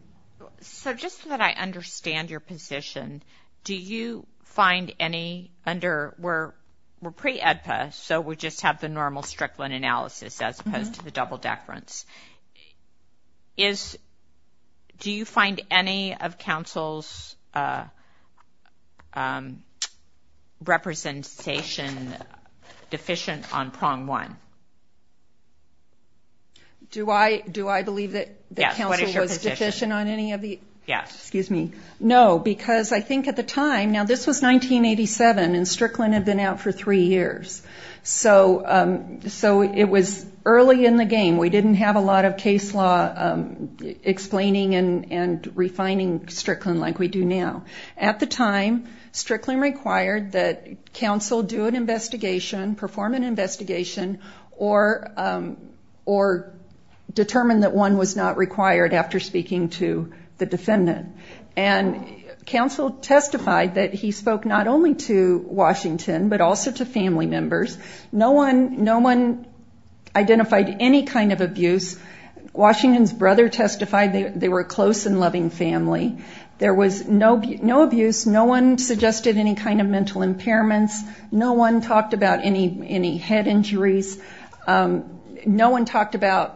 So just so that I understand your position, do you find any under, we're, we're pre-EDPA, so we just have the normal Strickland analysis as opposed to the double deference. Is, do you find any of counsel's representation deficient on prong one? Do I, do I believe that the counsel was deficient on any of the? Yes, what is your position? Yes, excuse me. No, because I think at the time, now this was 1987 and Strickland had been out for three years. So, so it was early in the game. We didn't have a lot of case law explaining and, and refining Strickland like we do now. At the time, Strickland required that counsel do an investigation, perform an investigation, or, or determine that one was not required after speaking to the defendant. And counsel testified that he spoke not only to Washington, but also to family members. No one, no one identified any kind of abuse. Washington's brother testified they were a close and loving family. There was no, no abuse. No one suggested any kind of mental impairments. No one talked about any, any head injuries. No one talked about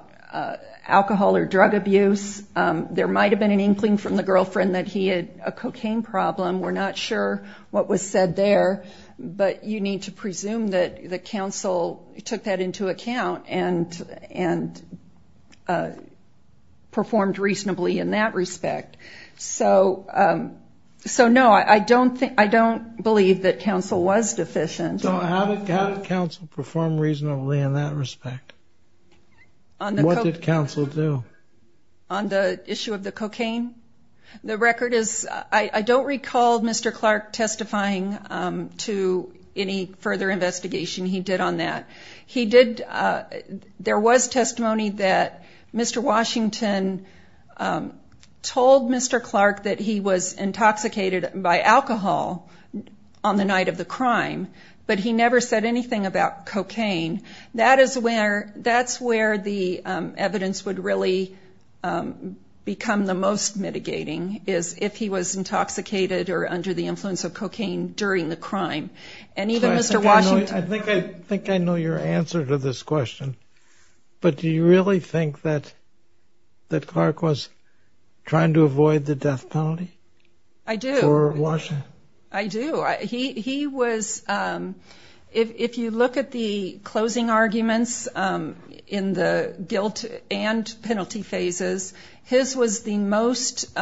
alcohol or drug abuse. There might have been an inkling from the girlfriend that he had a cocaine problem. We're not sure what was said there. But you need to presume that the counsel took that into account and, and performed reasonably in that respect. So, so no, I don't think, I don't believe that counsel was deficient. So how did counsel perform reasonably in that respect? What did counsel do? On the issue of the cocaine? The record is, I don't recall Mr. Clark testifying to any further investigation he did on that. He did, there was testimony that Mr. Washington told Mr. Clark that he was intoxicated by alcohol on the night of the crime. But he never said anything about cocaine. That is where, that's where the evidence would really become the most mitigating, is if he was intoxicated or under the influence of cocaine during the crime. And even Mr. Washington. I think I know your answer to this question. But do you really think that, that Clark was trying to avoid the death penalty? I do. For Washington? I do. He was, if you look at the closing arguments in the guilt and penalty phases, his was the most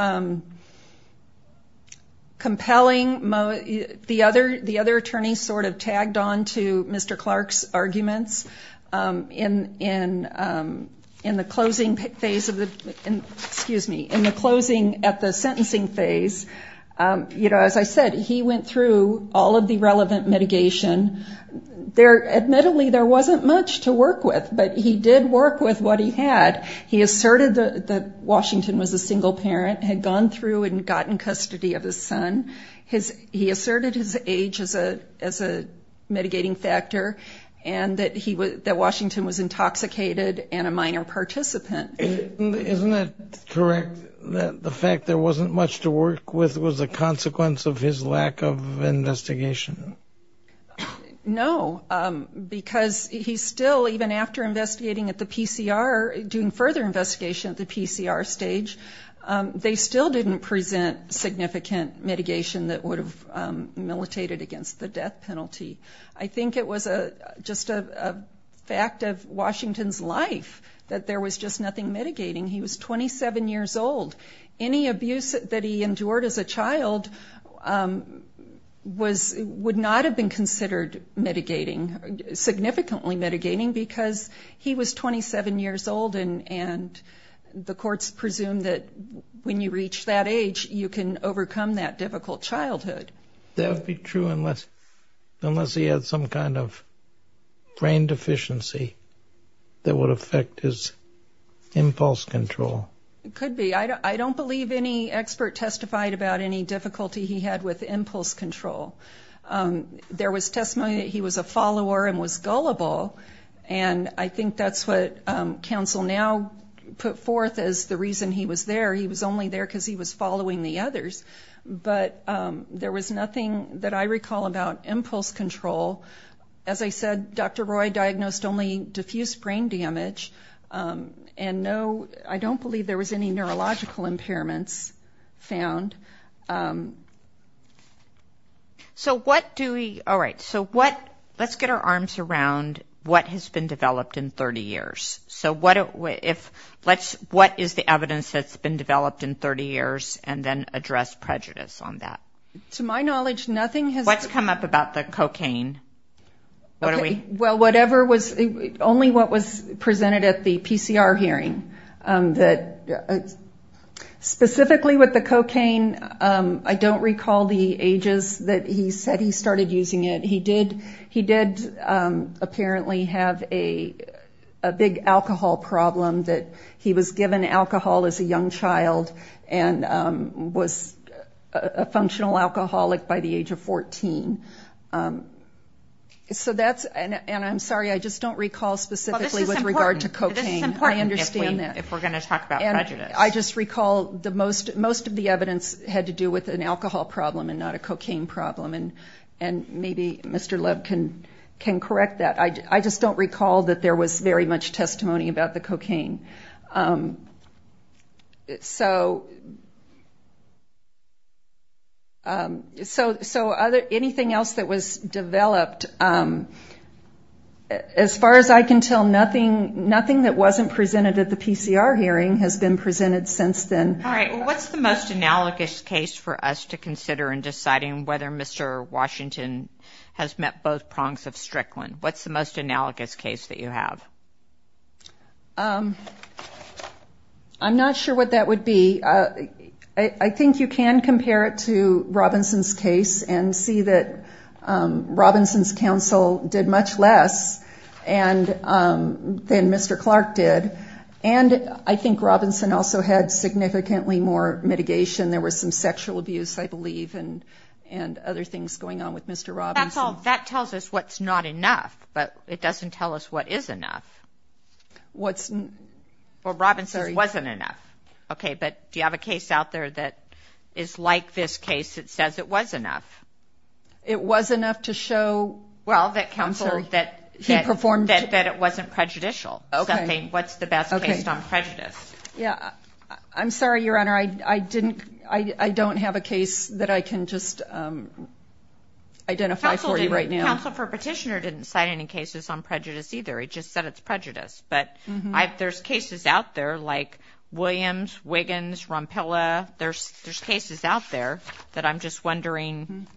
compelling. The other, the other attorneys sort of tagged on to Mr. Clark's arguments in, in, in the closing phase of the, excuse me, in the closing at the sentencing phase. You know, as I said, he went through all of the relevant mitigation. There, admittedly, there wasn't much to work with, but he did work with what he had. He asserted that Washington was a single parent, had gone through and gotten custody of his son. His, he asserted his age as a, as a mitigating factor and that he was, that Washington was intoxicated and a minor participant. Isn't it correct that the fact there wasn't much to work with was a consequence of his lack of investigation? No, because he still, even after investigating at the PCR, doing further investigation at the PCR stage, they still didn't present significant mitigation that would have militated against the death penalty. I think it was a, just a fact of Washington's life that there was just nothing mitigating. He was 27 years old. Any abuse that he endured as a child was, would not have been considered mitigating, significantly mitigating, because he was 27 years old and, and the courts presume that when you reach that age, you can overcome that difficult childhood. That would be true unless, unless he had some kind of brain deficiency that would affect his impulse control. It could be. I don't believe any expert testified about any difficulty he had with impulse control. There was testimony that he was a follower and was gullible, and I think that's what counsel now put forth as the reason he was there. He was only there because he was following the others, but there was nothing that I recall about impulse control. As I said, Dr. Roy diagnosed only diffuse brain damage, and no, I don't believe there was any neurological impairments found. So what do we, all right, so what, let's get our arms around what has been developed in 30 years. So what if, let's, what is the evidence that's been developed in 30 years, and then address prejudice on that? To my knowledge, nothing has been. What's come up about the cocaine? Well, whatever was, only what was presented at the PCR hearing. Specifically with the cocaine, I don't recall the ages that he said he started using it. He did apparently have a big alcohol problem that he was given alcohol as a young child and was a functional alcoholic by the age of 14. So that's, and I'm sorry, I just don't recall specifically with regard to cocaine. This is important. I understand that. If we're going to talk about prejudice. I just recall most of the evidence had to do with an alcohol problem and not a cocaine problem, and maybe Mr. Love can correct that. I just don't recall that there was very much testimony about the cocaine. So anything else that was developed, as far as I can tell, nothing that wasn't presented at the PCR hearing has been presented since then. All right, well, what's the most analogous case for us to consider in deciding whether Mr. Washington has met both prongs of Strickland? What's the most analogous case that you have? I'm not sure what that would be. I think you can compare it to Robinson's case and see that Robinson's counsel did much less than Mr. Clark did, and I think Robinson also had significantly more mitigation. There was some sexual abuse, I believe, and other things going on with Mr. Robinson. That tells us what's not enough, but it doesn't tell us what is enough. Well, Robinson's wasn't enough. Okay, but do you have a case out there that is like this case that says it was enough? It was enough to show counsel that it wasn't prejudicial. What's the best case on prejudice? I'm sorry, Your Honor, I don't have a case that I can just identify for you right now. Counsel for Petitioner didn't cite any cases on prejudice either. He just said it's prejudice, but there's cases out there like Williams, Wiggins, Rompilla. There's cases out there that I'm just wondering.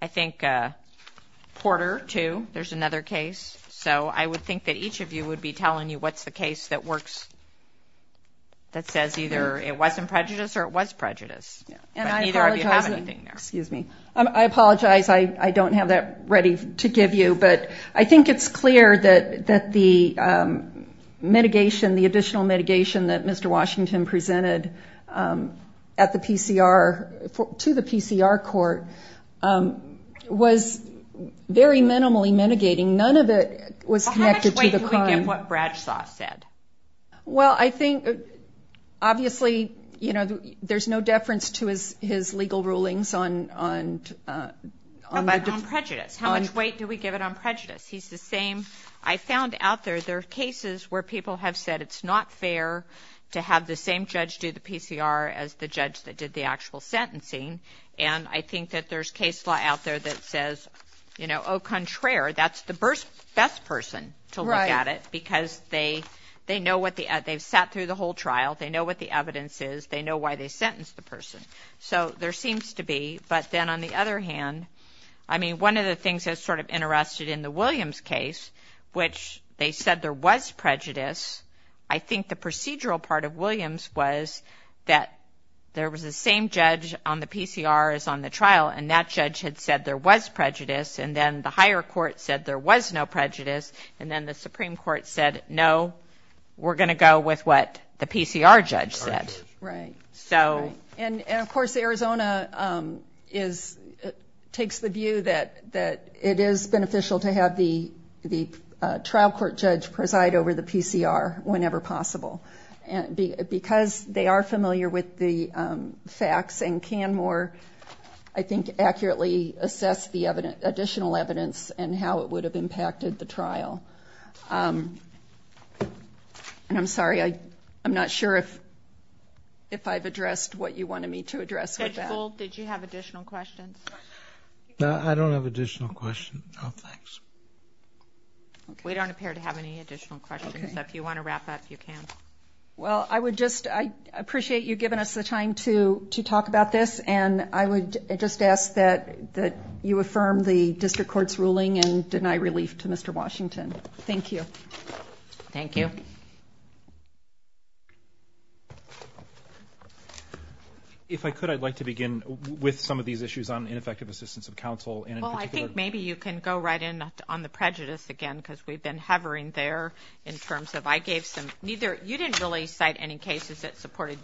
I think Porter, too, there's another case. So I would think that each of you would be telling you what's the case that works, that says either it wasn't prejudice or it was prejudice. But neither of you have anything there. Excuse me. I apologize. I don't have that ready to give you, but I think it's clear that the mitigation, the additional mitigation, that Mr. Washington presented to the PCR court was very minimally mitigating. None of it was connected to the crime. Well, how much weight do we give what Bradshaw said? Well, I think, obviously, you know, there's no deference to his legal rulings on prejudice. How much weight do we give it on prejudice? He's the same. I found out there there are cases where people have said it's not fair to have the same judge do the PCR as the judge that did the actual sentencing. And I think that there's case law out there that says, you know, au contraire, that's the best person to look at it because they've sat through the whole trial, they know what the evidence is, they know why they sentenced the person. So there seems to be. But then on the other hand, I mean, one of the things that's sort of interested in the Williams case, which they said there was prejudice, I think the procedural part of Williams was that there was the same judge on the PCR as on the trial, and that judge had said there was prejudice, and then the higher court said there was no prejudice, and then the Supreme Court said, no, we're going to go with what the PCR judge said. Right. And, of course, Arizona takes the view that it is beneficial to have the trial court judge preside over the PCR. Whenever possible. Because they are familiar with the facts and can more, I think, accurately assess the additional evidence and how it would have impacted the trial. And I'm sorry, I'm not sure if I've addressed what you wanted me to address with that. Judge Gould, did you have additional questions? No, I don't have additional questions. No, thanks. We don't appear to have any additional questions, so if you want to wrap up, you can. Well, I would just appreciate you giving us the time to talk about this, and I would just ask that you affirm the district court's ruling and deny relief to Mr. Washington. Thank you. Thank you. If I could, I'd like to begin with some of these issues on ineffective assistance of counsel. Well, I think maybe you can go right in on the prejudice again, because we've been hovering there in terms of I gave some. You didn't really cite any cases that supported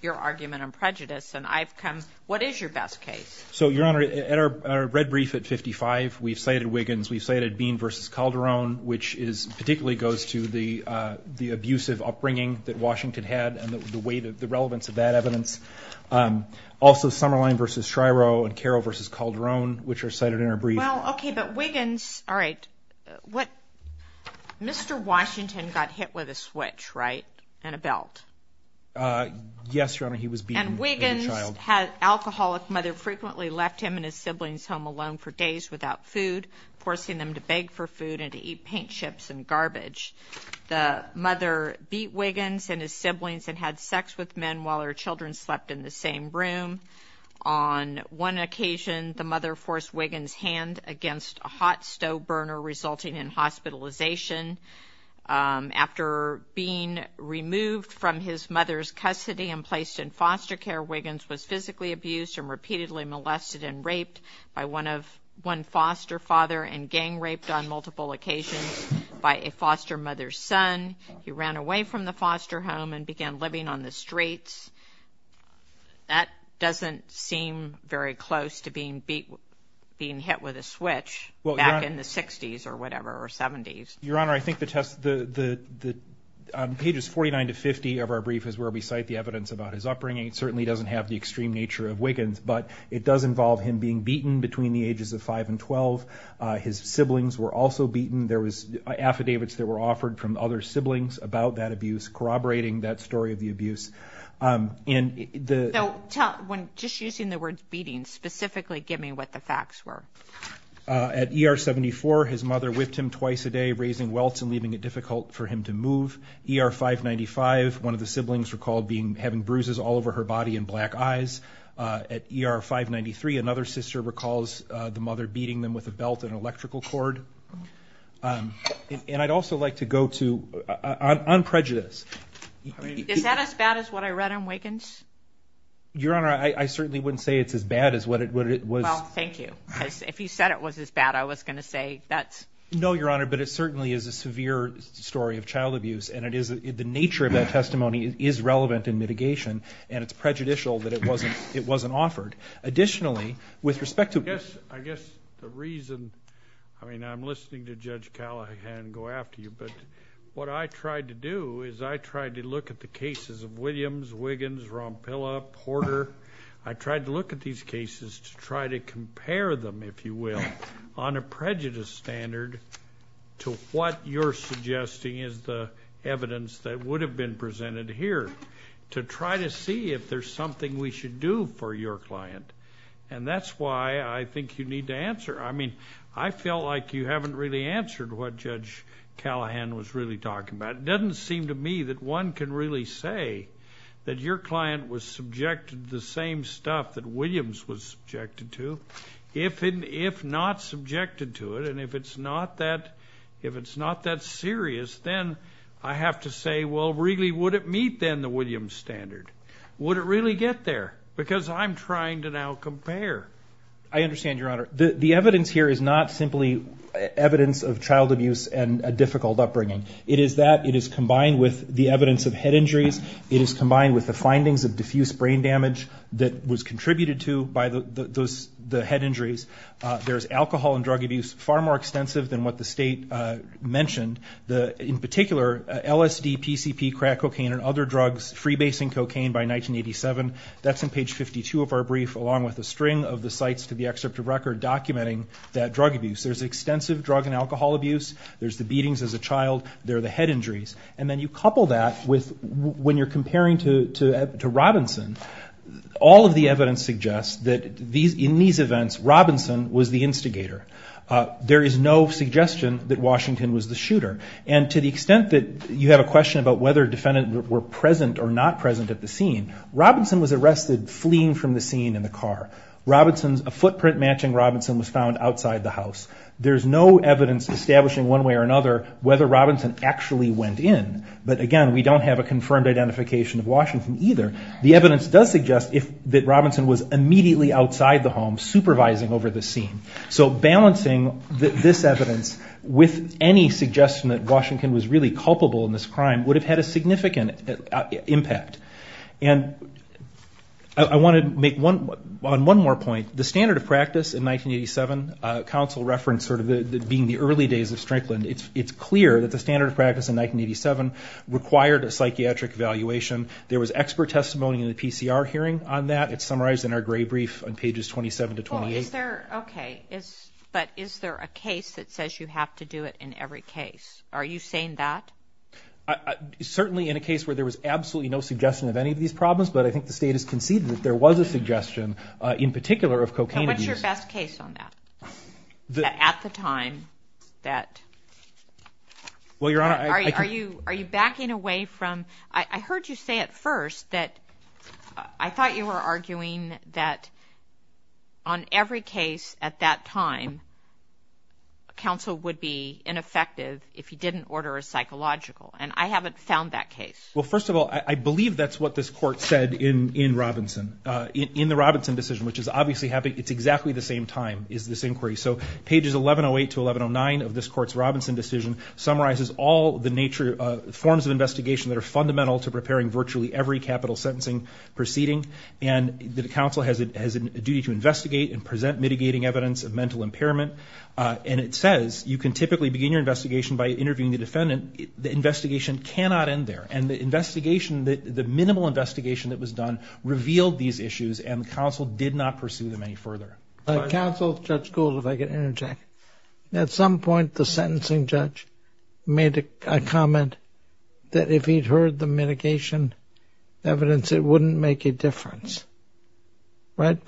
your argument on prejudice, and I've come. What is your best case? So, Your Honor, at our red brief at 55, we've cited Wiggins. We've cited Bean v. Calderon, which particularly goes to the abusive upbringing that Washington had and the relevance of that evidence. Also, Summerline v. Shryo and Carroll v. Calderon, which are cited in our brief. Well, okay, but Wiggins, all right. Mr. Washington got hit with a switch, right, and a belt. Yes, Your Honor, he was beaten by the child. And Wiggins' alcoholic mother frequently left him and his siblings home alone for days without food, forcing them to beg for food and to eat paint chips and garbage. The mother beat Wiggins and his siblings and had sex with men while her children slept in the same room. On one occasion, the mother forced Wiggins' hand against a hot stove burner, resulting in hospitalization. After being removed from his mother's custody and placed in foster care, Wiggins was physically abused and repeatedly molested and raped by one foster father and gang raped on multiple occasions by a foster mother's son. He ran away from the foster home and began living on the streets. That doesn't seem very close to being hit with a switch back in the 60s or whatever, or 70s. Your Honor, I think the test, pages 49 to 50 of our brief is where we cite the evidence about his upbringing. It certainly doesn't have the extreme nature of Wiggins, but it does involve him being beaten between the ages of 5 and 12. His siblings were also beaten. There was affidavits that were offered from other siblings about that abuse corroborating that story of the abuse. Just using the words beating specifically, give me what the facts were. At ER 74, his mother whipped him twice a day, raising welts and leaving it difficult for him to move. ER 595, one of the siblings recalled having bruises all over her body and black eyes. At ER 593, another sister recalls the mother beating them with a belt and electrical cord. I'd also like to go to, on prejudice. Is that as bad as what I read on Wiggins? Your Honor, I certainly wouldn't say it's as bad as what it was. Well, thank you. If you said it was as bad, I was going to say that's... No, Your Honor, but it certainly is a severe story of child abuse. And the nature of that testimony is relevant in mitigation, and it's prejudicial that it wasn't offered. Additionally, with respect to... I guess the reason, I mean, I'm listening to Judge Callahan go after you, but what I tried to do is I tried to look at the cases of Williams, Wiggins, Rompilla, Porter. I tried to look at these cases to try to compare them, if you will, on a prejudice standard to what you're suggesting is the evidence that would have been presented here to try to see if there's something we should do for your client. And that's why I think you need to answer. I mean, I felt like you haven't really answered what Judge Callahan was really talking about. It doesn't seem to me that one can really say that your client was subjected to the same stuff that Williams was subjected to. If not subjected to it, and if it's not that serious, then I have to say, well, really, would it meet then the Williams standard? Would it really get there? Because I'm trying to now compare. I understand, Your Honor. The evidence here is not simply evidence of child abuse and a difficult upbringing. It is that it is combined with the evidence of head injuries. It is combined with the findings of diffuse brain damage that was contributed to by the head injuries. There's alcohol and drug abuse far more extensive than what the State mentioned. In particular, LSD, PCP, crack cocaine, and other drugs, freebasing cocaine by 1987, that's in page 52 of our brief along with a string of the sites to the excerpt of record documenting that drug abuse. There's extensive drug and alcohol abuse. There's the beatings as a child. There are the head injuries. And then you couple that with when you're comparing to Robinson, all of the evidence suggests that in these events, Robinson was the instigator. There is no suggestion that Washington was the shooter. And to the extent that you have a question about whether defendants were present or not present at the scene, Robinson was arrested fleeing from the scene in the car. A footprint matching Robinson was found outside the house. There's no evidence establishing one way or another whether Robinson actually went in. But, again, we don't have a confirmed identification of Washington either. The evidence does suggest that Robinson was immediately outside the home supervising over the scene. So balancing this evidence with any suggestion that Washington was really culpable in this crime would have had a significant impact. And I want to make one more point. The standard of practice in 1987, counsel referenced sort of being the early days of Strickland. It's clear that the standard of practice in 1987 required a psychiatric evaluation. There was expert testimony in the PCR hearing on that. It's summarized in our gray brief on pages 27 to 28. Okay, but is there a case that says you have to do it in every case? Are you saying that? Certainly in a case where there was absolutely no suggestion of any of these problems, but I think the state has conceded that there was a suggestion in particular of cocaine abuse. So what's your best case on that? That at the time that- Well, Your Honor, I- Are you backing away from- I heard you say at first that I thought you were arguing that on every case at that time, counsel would be ineffective if he didn't order a psychological, and I haven't found that case. Well, first of all, I believe that's what this Court said in Robinson, in the Robinson decision, which is obviously having- it's exactly the same time is this inquiry. So pages 1108 to 1109 of this Court's Robinson decision summarizes all the nature- forms of investigation that are fundamental to preparing virtually every capital sentencing proceeding, and the counsel has a duty to investigate and present mitigating evidence of mental impairment, and it says you can typically begin your investigation by interviewing the defendant. The investigation cannot end there, and the investigation- the minimal investigation that was done revealed these issues, and the counsel did not pursue them any further. Counsel, Judge Gould, if I could interject. At some point, the sentencing judge made a comment that if he'd heard the mitigation evidence, it wouldn't make a difference, right?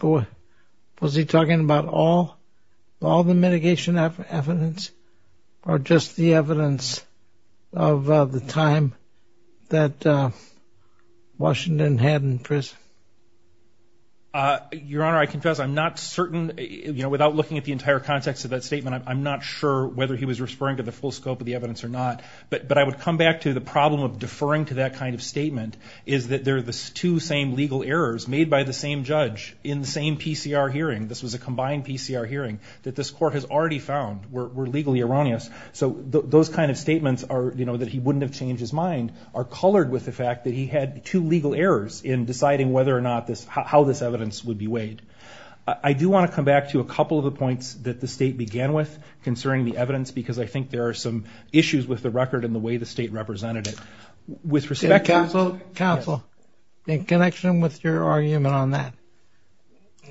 Was he talking about all the mitigation evidence, or just the evidence of the time that Washington had in prison? Your Honor, I confess I'm not certain- without looking at the entire context of that statement, I'm not sure whether he was referring to the full scope of the evidence or not, but I would come back to the problem of deferring to that kind of statement is that they're the two same legal errors made by the same judge in the same PCR hearing. This was a combined PCR hearing that this court has already found were legally erroneous. So those kind of statements are, you know, that he wouldn't have changed his mind, are colored with the fact that he had two legal errors in deciding whether or not this- how this evidence would be weighed. I do want to come back to a couple of the points that the state began with concerning the evidence, because I think there are some issues with the record and the way the state represented it. With respect to- Counsel, in connection with your argument on that,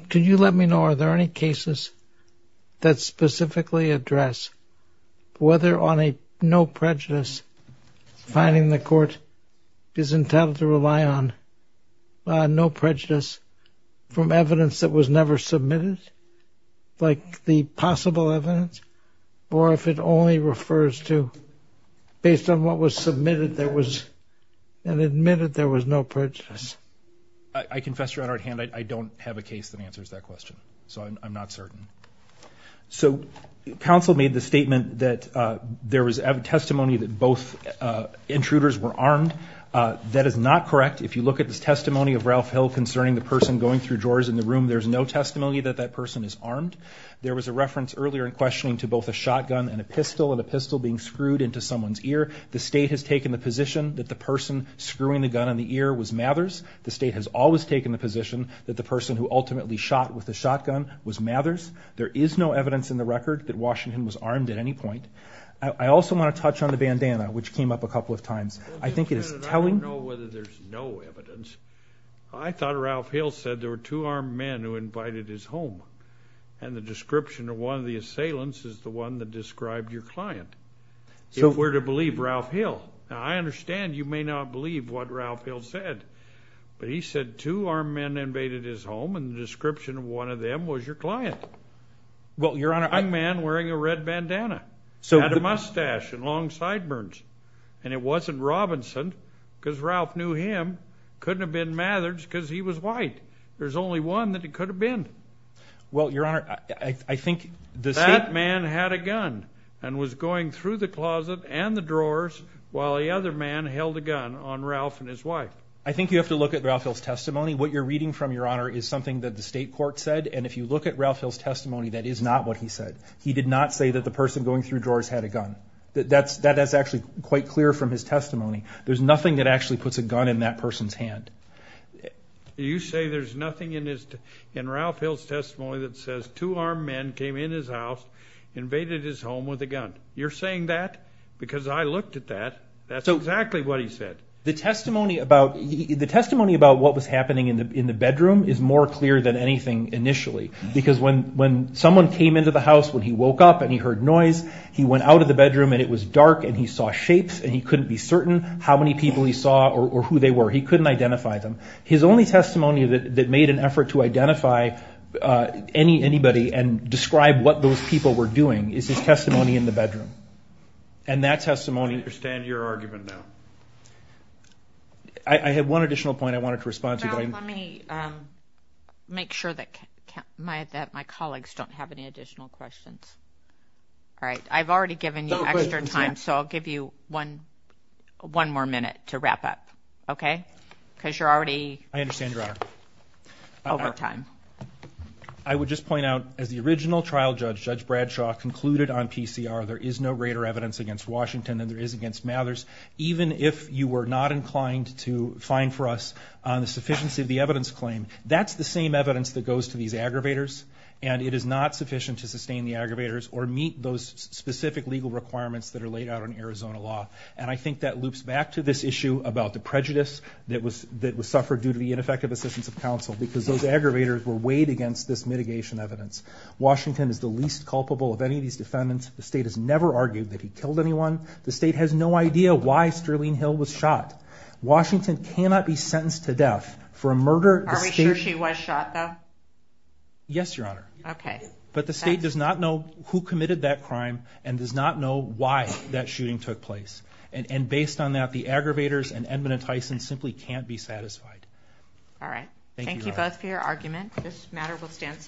could you let me know are there any cases that specifically address whether on a no prejudice, finding the court is entitled to rely on no prejudice from evidence that was never submitted, like the possible evidence, or if it only refers to based on what was submitted there was- and admitted there was no prejudice? I confess to your honored hand, I don't have a case that answers that question. So I'm not certain. So counsel made the statement that there was testimony that both intruders were armed. That is not correct. If you look at this testimony of Ralph Hill concerning the person going through drawers in the room, there's no testimony that that person is armed. There was a reference earlier in questioning to both a shotgun and a pistol, and a pistol being screwed into someone's ear. The state has taken the position that the person screwing the gun in the ear was Mathers. The state has always taken the position that the person who ultimately shot with the shotgun was Mathers. There is no evidence in the record that Washington was armed at any point. I also want to touch on the bandana, which came up a couple of times. I think it is telling- I don't know whether there's no evidence. I thought Ralph Hill said there were two armed men who invited his home, and the description of one of the assailants is the one that described your client. If we're to believe Ralph Hill. Now, I understand you may not believe what Ralph Hill said, but he said two armed men invaded his home, and the description of one of them was your client. Well, Your Honor, I- A young man wearing a red bandana. Had a mustache and long sideburns. And it wasn't Robinson because Ralph knew him. Couldn't have been Mathers because he was white. There's only one that it could have been. Well, Your Honor, I think- That man had a gun and was going through the closet and the drawers while the other man held a gun on Ralph and his wife. I think you have to look at Ralph Hill's testimony. What you're reading from, Your Honor, is something that the state court said, and if you look at Ralph Hill's testimony, that is not what he said. He did not say that the person going through drawers had a gun. That's actually quite clear from his testimony. There's nothing that actually puts a gun in that person's hand. You say there's nothing in Ralph Hill's testimony that says two armed men came in his house, invaded his home with a gun. You're saying that because I looked at that. That's exactly what he said. The testimony about what was happening in the bedroom is more clear than anything initially because when someone came into the house, when he woke up and he heard noise, he went out of the bedroom and it was dark and he saw shapes and he couldn't be certain how many people he saw or who they were. He couldn't identify them. His only testimony that made an effort to identify anybody and describe what those people were doing is his testimony in the bedroom. And that testimony... I understand your argument now. I have one additional point I wanted to respond to. Let me make sure that my colleagues don't have any additional questions. All right. I've already given you extra time, so I'll give you one more minute to wrap up. Okay? Because you're already... I understand, Your Honor. ...over time. I would just point out, as the original trial judge, Judge Bradshaw, concluded on PCR, there is no greater evidence against Washington than there is against Mathers. Even if you were not inclined to fine for us on the sufficiency of the evidence claim, that's the same evidence that goes to these aggravators, and it is not sufficient to sustain the aggravators or meet those specific legal requirements that are laid out in Arizona law. And I think that loops back to this issue about the prejudice that was suffered due to the ineffective assistance of counsel because those aggravators were weighed against this mitigation evidence. Washington is the least culpable of any of these defendants. The state has never argued that he killed anyone. The state has no idea why Sterling Hill was shot. Washington cannot be sentenced to death for a murder... Are we sure she was shot, though? Yes, Your Honor. Okay. But the state does not know who committed that crime and does not know why that shooting took place. And based on that, the aggravators and Edmund and Tyson simply can't be satisfied. All right. Thank you, Your Honor. Thank you both for your argument. This matter will stand...